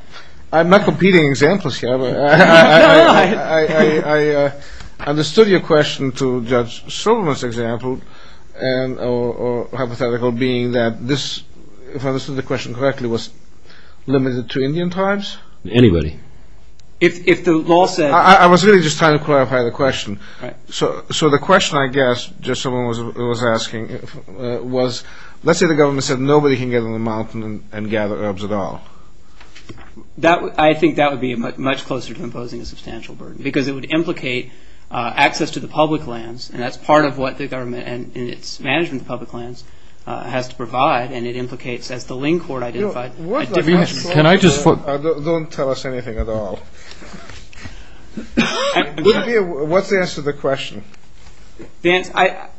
I'm not competing examples here. I understood your question to Judge Silverman's example, and hypothetical being that this, if I understood the question correctly, was limited to Indian tribes? Anybody. If the law said... I was really just trying to clarify the question. So the question, I guess, just someone was asking, was let's say the government said nobody can get on the mountain and gather herbs at all. I think that would be much closer to imposing a substantial burden because it would implicate access to the public lands, and that's part of what the government and its management of public lands has to provide, and it implicates, as the Ling Court identified, a difference. Can I just... Don't tell us anything at all. What's the answer to the question? I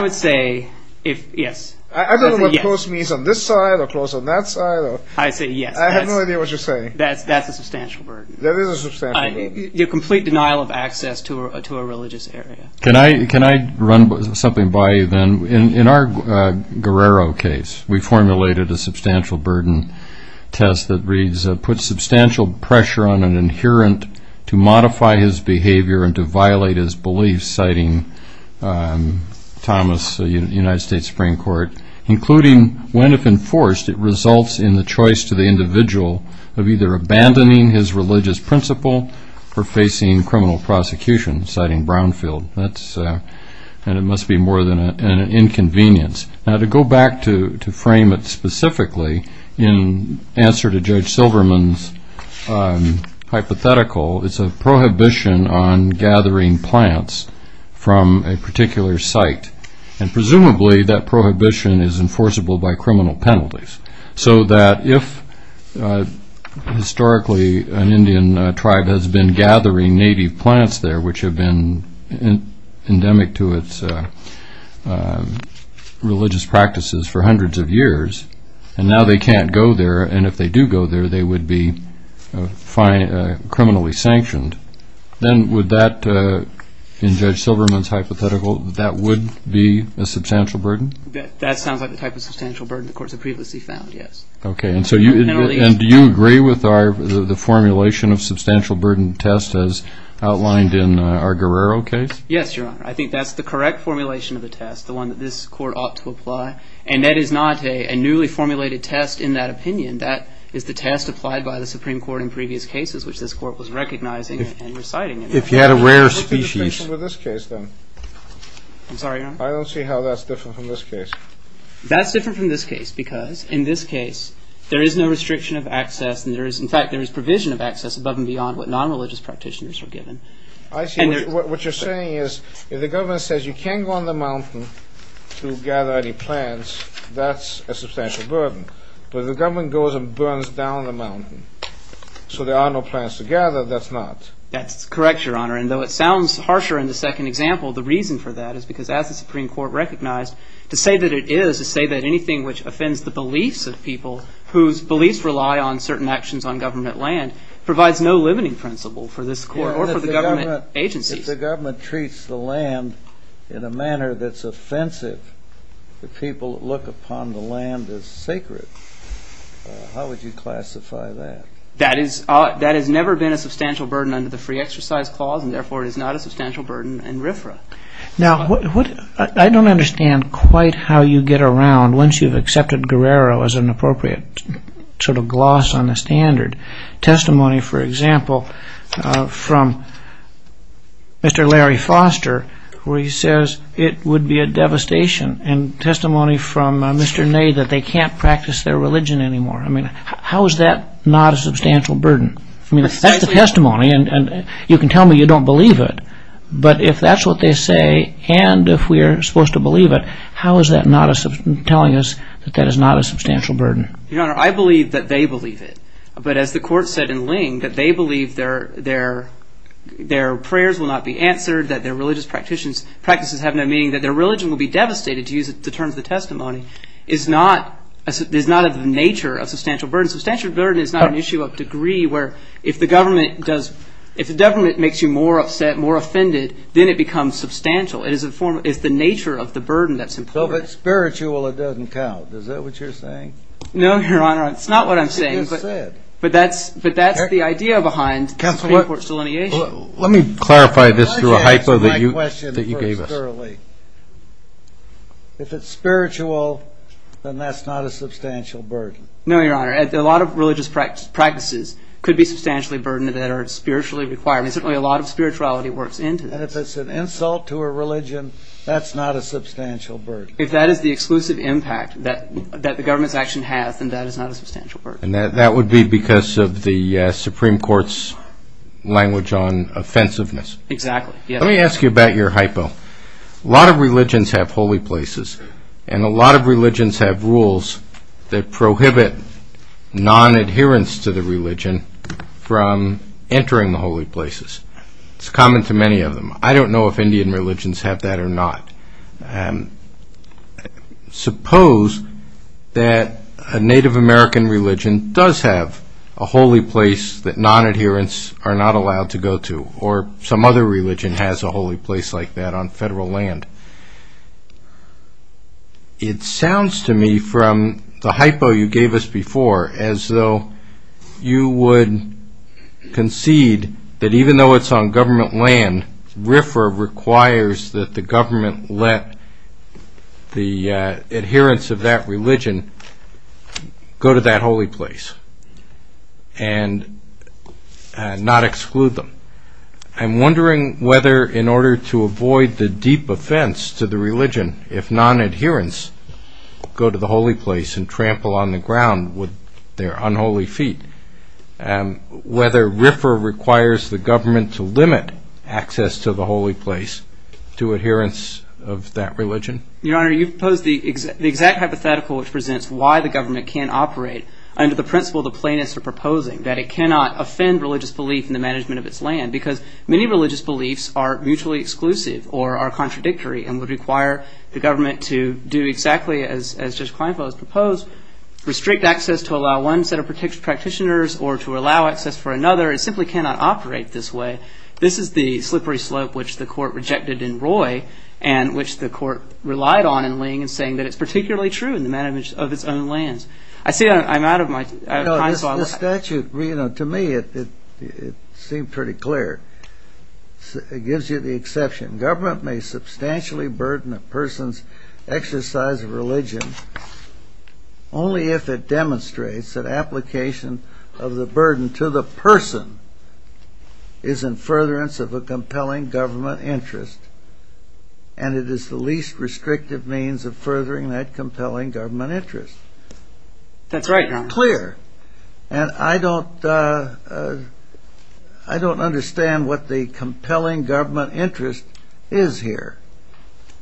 would say yes. I don't know what close means on this side or close on that side. I'd say yes. I have no idea what you're saying. That's a substantial burden. That is a substantial burden. Your complete denial of access to a religious area. Can I run something by you then? In our Guerrero case, we formulated a substantial burden test that puts substantial pressure on an adherent to modify his behavior and to violate his beliefs, citing Thomas, United States Supreme Court, including when, if enforced, it results in the choice to the individual of either abandoning his religious principle or facing criminal prosecution, citing Brownfield. And it must be more than an inconvenience. Now, to go back to frame it specifically, in answer to Judge Silverman's hypothetical, it's a prohibition on gathering plants from a particular site, and presumably that prohibition is enforceable by criminal penalties so that if historically an Indian tribe has been gathering native plants there which have been endemic to its religious practices for hundreds of years, and now they can't go there, and if they do go there, they would be criminally sanctioned. Then would that, in Judge Silverman's hypothetical, that would be a substantial burden? That sounds like the type of substantial burden the courts have previously found, yes. Okay. And do you agree with the formulation of substantial burden test as outlined in our Guerrero case? Yes, Your Honor. I think that's the correct formulation of the test, the one that this court ought to apply, and that is not a newly formulated test in that opinion. That is the test applied by the Supreme Court in previous cases, which this court was recognizing and reciting. If you had a rare species. What's the difference with this case, then? I'm sorry, Your Honor? I don't see how that's different from this case. That's different from this case because in this case there is no restriction of access, and, in fact, there is provision of access above and beyond what non-religious practitioners are given. I see. What you're saying is if the government says you can't go on the mountain to gather any plants, that's a substantial burden. But if the government goes and burns down the mountain so there are no plants to gather, that's not. That's correct, Your Honor. And though it sounds harsher in the second example, the reason for that is because, as the Supreme Court recognized, to say that it is to say that anything which offends the beliefs of people whose beliefs rely on certain actions on government land provides no limiting principle for this court or for the government agencies. If the government treats the land in a manner that's offensive, if the people look upon the land as sacred, how would you classify that? That has never been a substantial burden under the Free Exercise Clause, and therefore it is not a substantial burden in RFRA. Now, I don't understand quite how you get around, once you've accepted Guerrero as an appropriate sort of gloss on the standard. Testimony, for example, from Mr. Larry Foster, where he says it would be a devastation, and testimony from Mr. Ney that they can't practice their religion anymore. I mean, how is that not a substantial burden? I mean, that's the testimony, and you can tell me you don't believe it, but if that's what they say and if we are supposed to believe it, how is that not telling us that that is not a substantial burden? Your Honor, I believe that they believe it. But as the court said in Ling, that they believe their prayers will not be answered, that their religious practices have no meaning, that their religion will be devastated, to use the terms of the testimony, is not of the nature of substantial burden. Substantial burden is not an issue of degree, where if the government makes you more upset, more offended, then it becomes substantial. It is the nature of the burden that's important. So if it's spiritual, it doesn't count. Is that what you're saying? No, Your Honor, it's not what I'm saying. But that's the idea behind the Supreme Court's delineation. Let me clarify this through a hypo that you gave us. If it's spiritual, then that's not a substantial burden. No, Your Honor. A lot of religious practices could be substantially burdened that are spiritually required, and certainly a lot of spirituality works into this. And if it's an insult to a religion, that's not a substantial burden. If that is the exclusive impact that the government's action has, then that is not a substantial burden. And that would be because of the Supreme Court's language on offensiveness. Exactly. Let me ask you about your hypo. A lot of religions have holy places, and a lot of religions have rules that prohibit non-adherence to the religion from entering the holy places. It's common to many of them. I don't know if Indian religions have that or not. Suppose that a Native American religion does have a holy place that non-adherents are not allowed to go to, or some other religion has a holy place like that on federal land. It sounds to me from the hypo you gave us before as though you would concede that even though it's on government land, RFRA requires that the government let the adherents of that religion go to that holy place and not exclude them. I'm wondering whether in order to avoid the deep offense to the religion if non-adherents go to the holy place and trample on the ground with their unholy feet, whether RFRA requires the government to limit access to the holy place to adherents of that religion? Your Honor, you've proposed the exact hypothetical which presents why the government can't operate under the principle the plaintiffs are proposing, that it cannot offend religious belief in the management of its land because many religious beliefs are mutually exclusive or are contradictory and would require the government to do exactly as Judge Kleinfeld has proposed, restrict access to allow one set of practitioners or to allow access for another. It simply cannot operate this way. This is the slippery slope which the Court rejected in Roy and which the Court relied on in Lange in saying that it's particularly true in the management of its own lands. I see I'm out of time. The statute, to me, it seemed pretty clear. It gives you the exception. Government may substantially burden a person's exercise of religion only if it demonstrates that application of the burden to the person is in furtherance of a compelling government interest and it is the least restrictive means of furthering that compelling government interest. That's right, Your Honor. And I don't understand what the compelling government interest is here.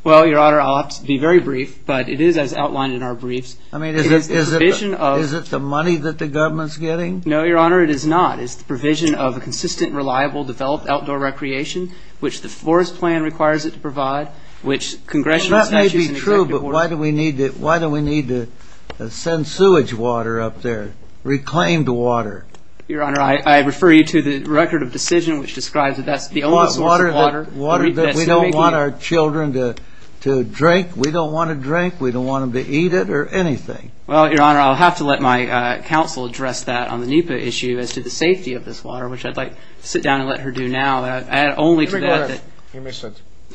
Well, Your Honor, I'll be very brief, but it is as outlined in our briefs. I mean, is it the money that the government's getting? No, Your Honor, it is not. It's the provision of a consistent, reliable, developed outdoor recreation which the Forest Plan requires it to provide, which Congressional Statutes and Executive Orders Why do we need to send sewage water up there, reclaimed water? Your Honor, I refer you to the Record of Decision which describes that that's the only source of water. Water that we don't want our children to drink? We don't want to drink? We don't want them to eat it or anything? Well, Your Honor, I'll have to let my counsel address that on the NEPA issue as to the safety of this water, which I'd like to sit down and let her do now. I add only to that that...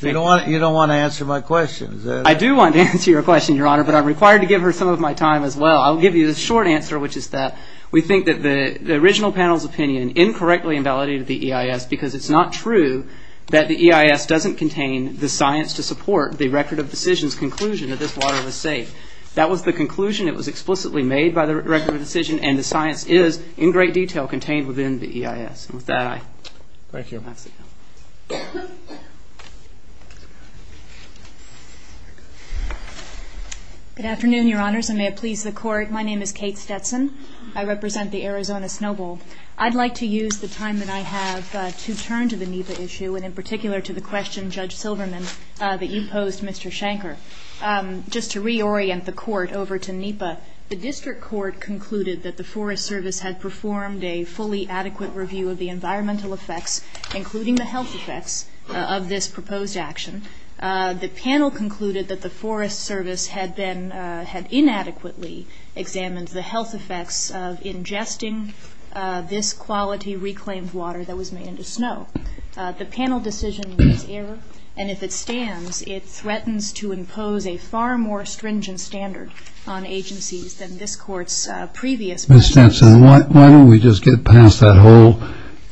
You don't want to answer my question, is that it? I do want to answer your question, Your Honor, but I'm required to give her some of my time as well. I'll give you the short answer, which is that we think that the original panel's opinion incorrectly invalidated the EIS because it's not true that the EIS doesn't contain the science to support the Record of Decision's conclusion that this water was safe. That was the conclusion. It was explicitly made by the Record of Decision, and the science is, in great detail, contained within the EIS. And with that, I have to sit down. Good afternoon, Your Honors, and may it please the Court. My name is Kate Stetson. I represent the Arizona Snow Bowl. I'd like to use the time that I have to turn to the NEPA issue, and in particular to the question, Judge Silverman, that you posed, Mr. Shanker. Just to reorient the Court over to NEPA, the District Court concluded that the Forest Service had performed a fully adequate review of the environmental effects, including the health effects, of this proposed action. The panel concluded that the Forest Service had inadequately examined the health effects of ingesting this quality reclaimed water that was made into snow. The panel decision was error, and if it stands, it threatens to impose a far more stringent standard on agencies than this Court's previous Ms. Stetson, why don't we just get past that whole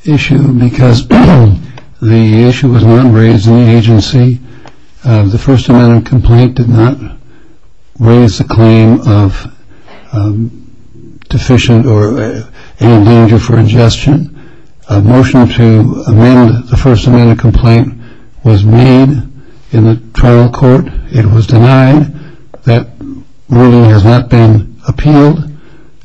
issue? Because the issue was not raised in the agency. The First Amendment complaint did not raise the claim of deficient or any danger for ingestion. A motion to amend the First Amendment complaint was made in the trial court. It was denied. That ruling has not been appealed.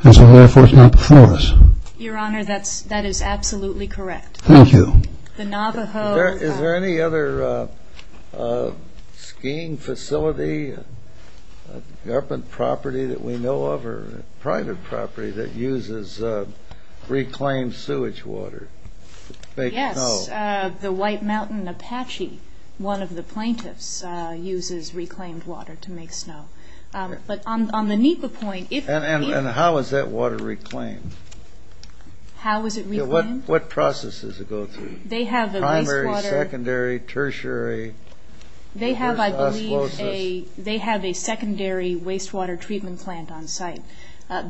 And so, therefore, it's not before us. Your Honor, that is absolutely correct. Thank you. The Navajo- Is there any other skiing facility, garment property that we know of, or private property that uses reclaimed sewage water to make snow? Yes, the White Mountain Apache, one of the plaintiffs, uses reclaimed water to make snow. But on the NEPA point, if- And how is that water reclaimed? How is it reclaimed? What processes does it go through? Primary, secondary, tertiary? They have, I believe, a secondary wastewater treatment plant on site.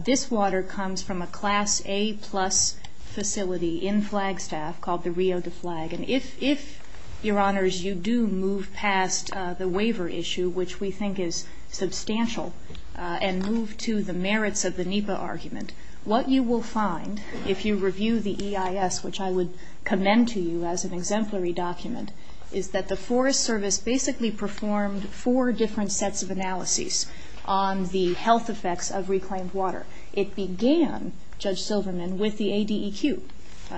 This water comes from a Class A plus facility in Flagstaff called the Rio de Flag. And if, Your Honors, you do move past the waiver issue, which we think is substantial, and move to the merits of the NEPA argument, what you will find if you review the EIS, which I would commend to you as an exemplary document, is that the Forest Service basically performed four different sets of analyses on the health effects of reclaimed water. It began, Judge Silverman, with the ADEQ.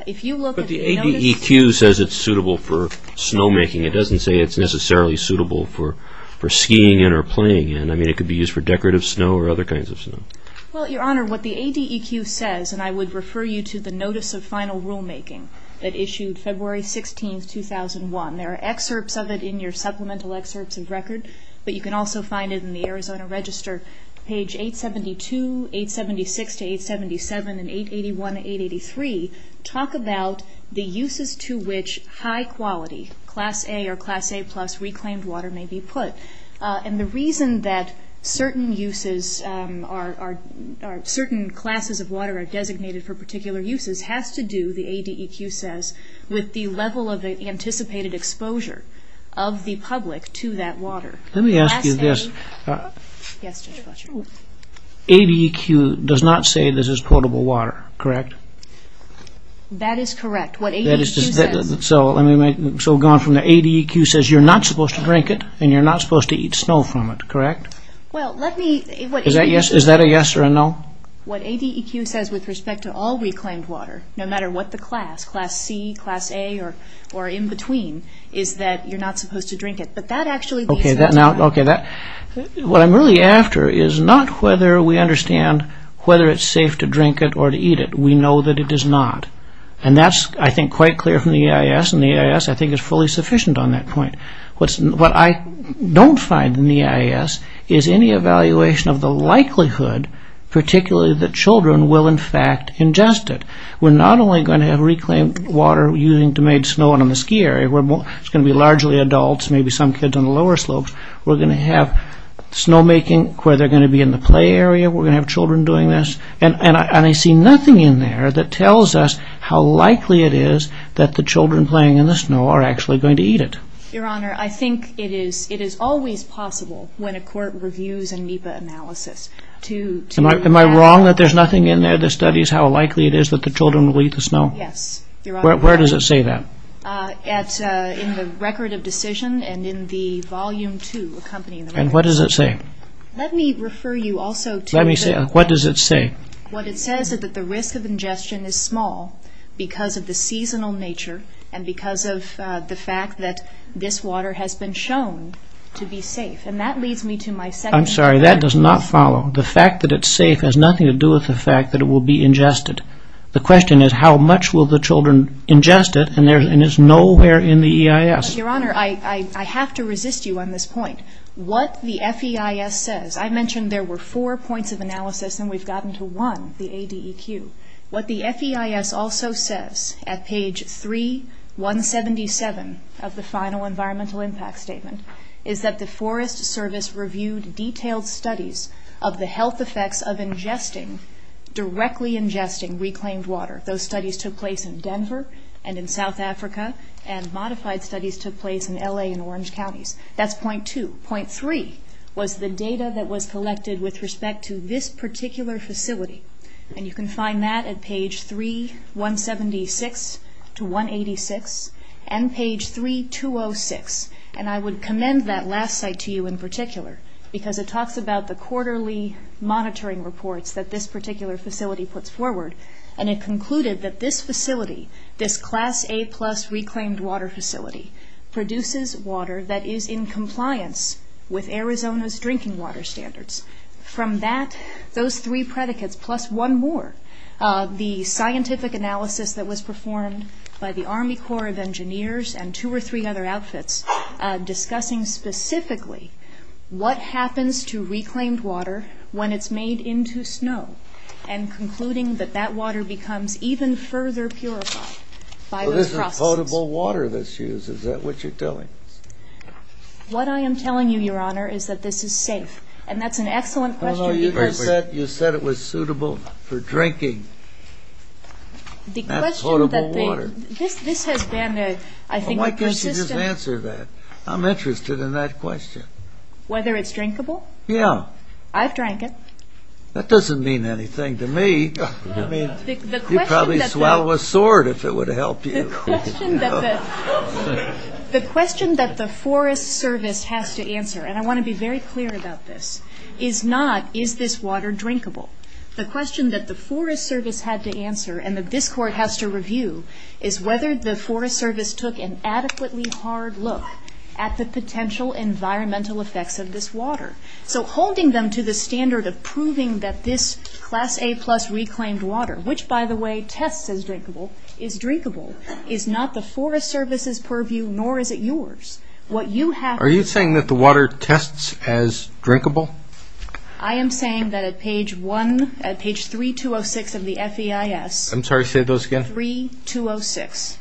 If you look at the notice- It says it's suitable for snowmaking. It doesn't say it's necessarily suitable for skiing in or playing in. I mean, it could be used for decorative snow or other kinds of snow. Well, Your Honor, what the ADEQ says, and I would refer you to the Notice of Final Rulemaking that issued February 16, 2001. There are excerpts of it in your supplemental excerpts of record, but you can also find it in the Arizona Register, page 872, 876 to 877, and 881 to 883, talk about the uses to which high-quality Class A or Class A-plus reclaimed water may be put. And the reason that certain uses are- certain classes of water are designated for particular uses has to do, the ADEQ says, with the level of anticipated exposure of the public to that water. Let me ask you this. Yes, Judge Butcher. ADEQ does not say this is potable water, correct? That is correct. What ADEQ says- So, let me make- So, going from the ADEQ says you're not supposed to drink it and you're not supposed to eat snow from it, correct? Well, let me- Is that a yes or a no? What ADEQ says with respect to all reclaimed water, no matter what the class, Class C, Class A, or in between, is that you're not supposed to drink it. But that actually- Okay, that now- Okay, that- What I'm really after is not whether we understand whether it's safe to drink it or to eat it. We know that it is not. And that's, I think, quite clear from the EIS, and the EIS, I think, is fully sufficient on that point. What I don't find in the EIS is any evaluation of the likelihood, particularly that children will, in fact, ingest it. We're not only going to have reclaimed water using to make snow on the ski area. It's going to be largely adults, maybe some kids on the lower slopes. We're going to have snowmaking where they're going to be in the play area. We're going to have children doing this. And I see nothing in there that tells us how likely it is that the children playing in the snow are actually going to eat it. Your Honor, I think it is always possible when a court reviews a NEPA analysis to- Am I wrong that there's nothing in there that studies how likely it is that the children will eat the snow? Yes, Your Honor. Where does it say that? In the Record of Decision and in the Volume 2 accompanying the- And what does it say? Let me refer you also to the- What does it say? What it says is that the risk of ingestion is small because of the seasonal nature and because of the fact that this water has been shown to be safe. And that leads me to my second- I'm sorry, that does not follow. The fact that it's safe has nothing to do with the fact that it will be ingested. The question is how much will the children ingest it, and it's nowhere in the EIS. Your Honor, I have to resist you on this point. What the FEIS says- I mentioned there were four points of analysis, and we've gotten to one, the ADEQ. What the FEIS also says at page 3177 of the final Environmental Impact Statement is that the Forest Service reviewed detailed studies of the health effects of ingesting, directly ingesting, reclaimed water. Those studies took place in Denver and in South Africa, and modified studies took place in L.A. and Orange Counties. That's point two. Point three was the data that was collected with respect to this particular facility, and you can find that at page 3176 to 186 and page 3206. And I would commend that last site to you in particular because it talks about the quarterly monitoring reports that this particular facility puts forward, and it concluded that this facility, this Class A-plus reclaimed water facility, produces water that is in compliance with Arizona's drinking water standards. From that, those three predicates, plus one more, the scientific analysis that was performed by the Army Corps of Engineers and two or three other outfits discussing specifically what happens to reclaimed water when it's made into snow and concluding that that water becomes even further purified by those processes. Is that what you're telling us? What I am telling you, Your Honor, is that this is safe, and that's an excellent question because- No, no, you just said it was suitable for drinking. That's potable water. This has been, I think, a persistent- Well, why can't you just answer that? I'm interested in that question. Whether it's drinkable? Yeah. I've drank it. That doesn't mean anything to me. You'd probably swallow a sword if it would help you. The question that the Forest Service has to answer, and I want to be very clear about this, is not is this water drinkable. The question that the Forest Service had to answer and that this Court has to review is whether the Forest Service took an adequately hard look at the potential environmental effects of this water. So holding them to the standard of proving that this Class A-plus reclaimed water, which, by the way, tests as drinkable, is drinkable, is not the Forest Service's purview, nor is it yours. What you have- Are you saying that the water tests as drinkable? I am saying that at page 3-206 of the FEIS- I'm sorry, say those again. 3-206,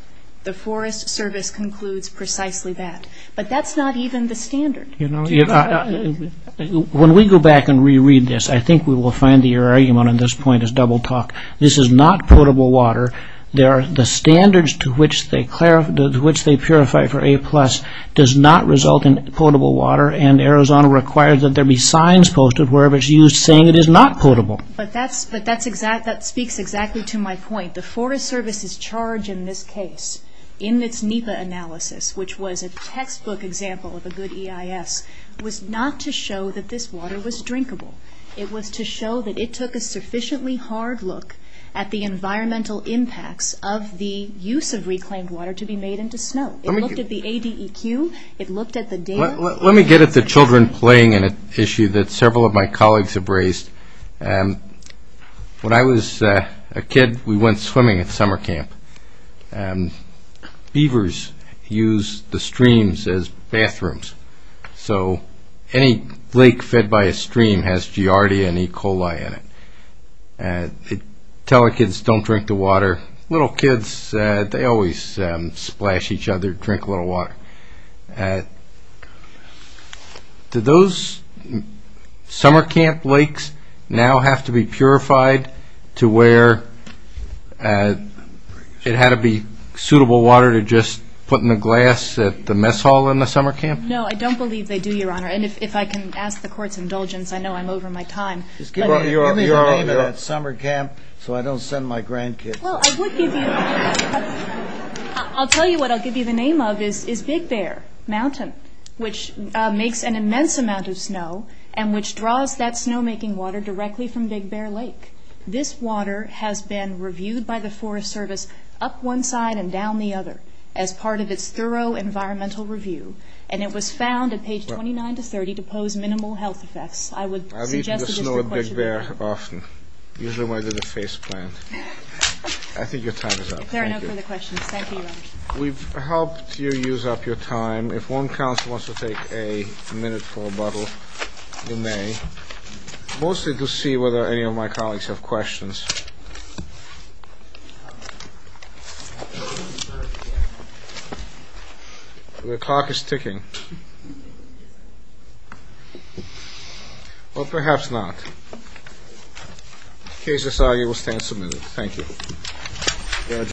the Forest Service concludes precisely that. But that's not even the standard. When we go back and reread this, I think we will find that your argument on this point is double talk. This is not potable water. The standards to which they purify for A-plus does not result in potable water, and Arizona requires that there be signs posted wherever it's used saying it is not potable. But that speaks exactly to my point. The Forest Service's charge in this case, in its NEPA analysis, which was a textbook example of a good EIS, was not to show that this water was drinkable. It was to show that it took a sufficiently hard look at the environmental impacts of the use of reclaimed water to be made into snow. It looked at the ADEQ. It looked at the data. Let me get at the children playing issue that several of my colleagues have raised. When I was a kid, we went swimming at summer camp. Beavers use the streams as bathrooms. So any lake fed by a stream has giardia and E. coli in it. Tell our kids, don't drink the water. Little kids, they always splash each other, drink a little water. Do those summer camp lakes now have to be purified to where it had to be suitable water to just put in a glass at the mess hall in the summer camp? No, I don't believe they do, Your Honor. And if I can ask the Court's indulgence, I know I'm over my time. Just give me the name of that summer camp so I don't send my grandkids. Well, I would give you... I'll tell you what I'll give you the name of is Big Bear Mountain, which makes an immense amount of snow and which draws that snow-making water directly from Big Bear Lake. This water has been reviewed by the Forest Service up one side and down the other as part of its thorough environmental review, and it was found at page 29 to 30 to pose minimal health effects. I would suggest that it's the question... I've eaten the snow at Big Bear often, usually when I did a face plant. I think your time is up. There are no further questions. Thank you, Your Honor. We've helped you use up your time. If one counsel wants to take a minute for a bottle, you may, mostly to see whether any of my colleagues have questions. The clock is ticking. Well, perhaps not. The case is signed. You will stand submitted. Thank you.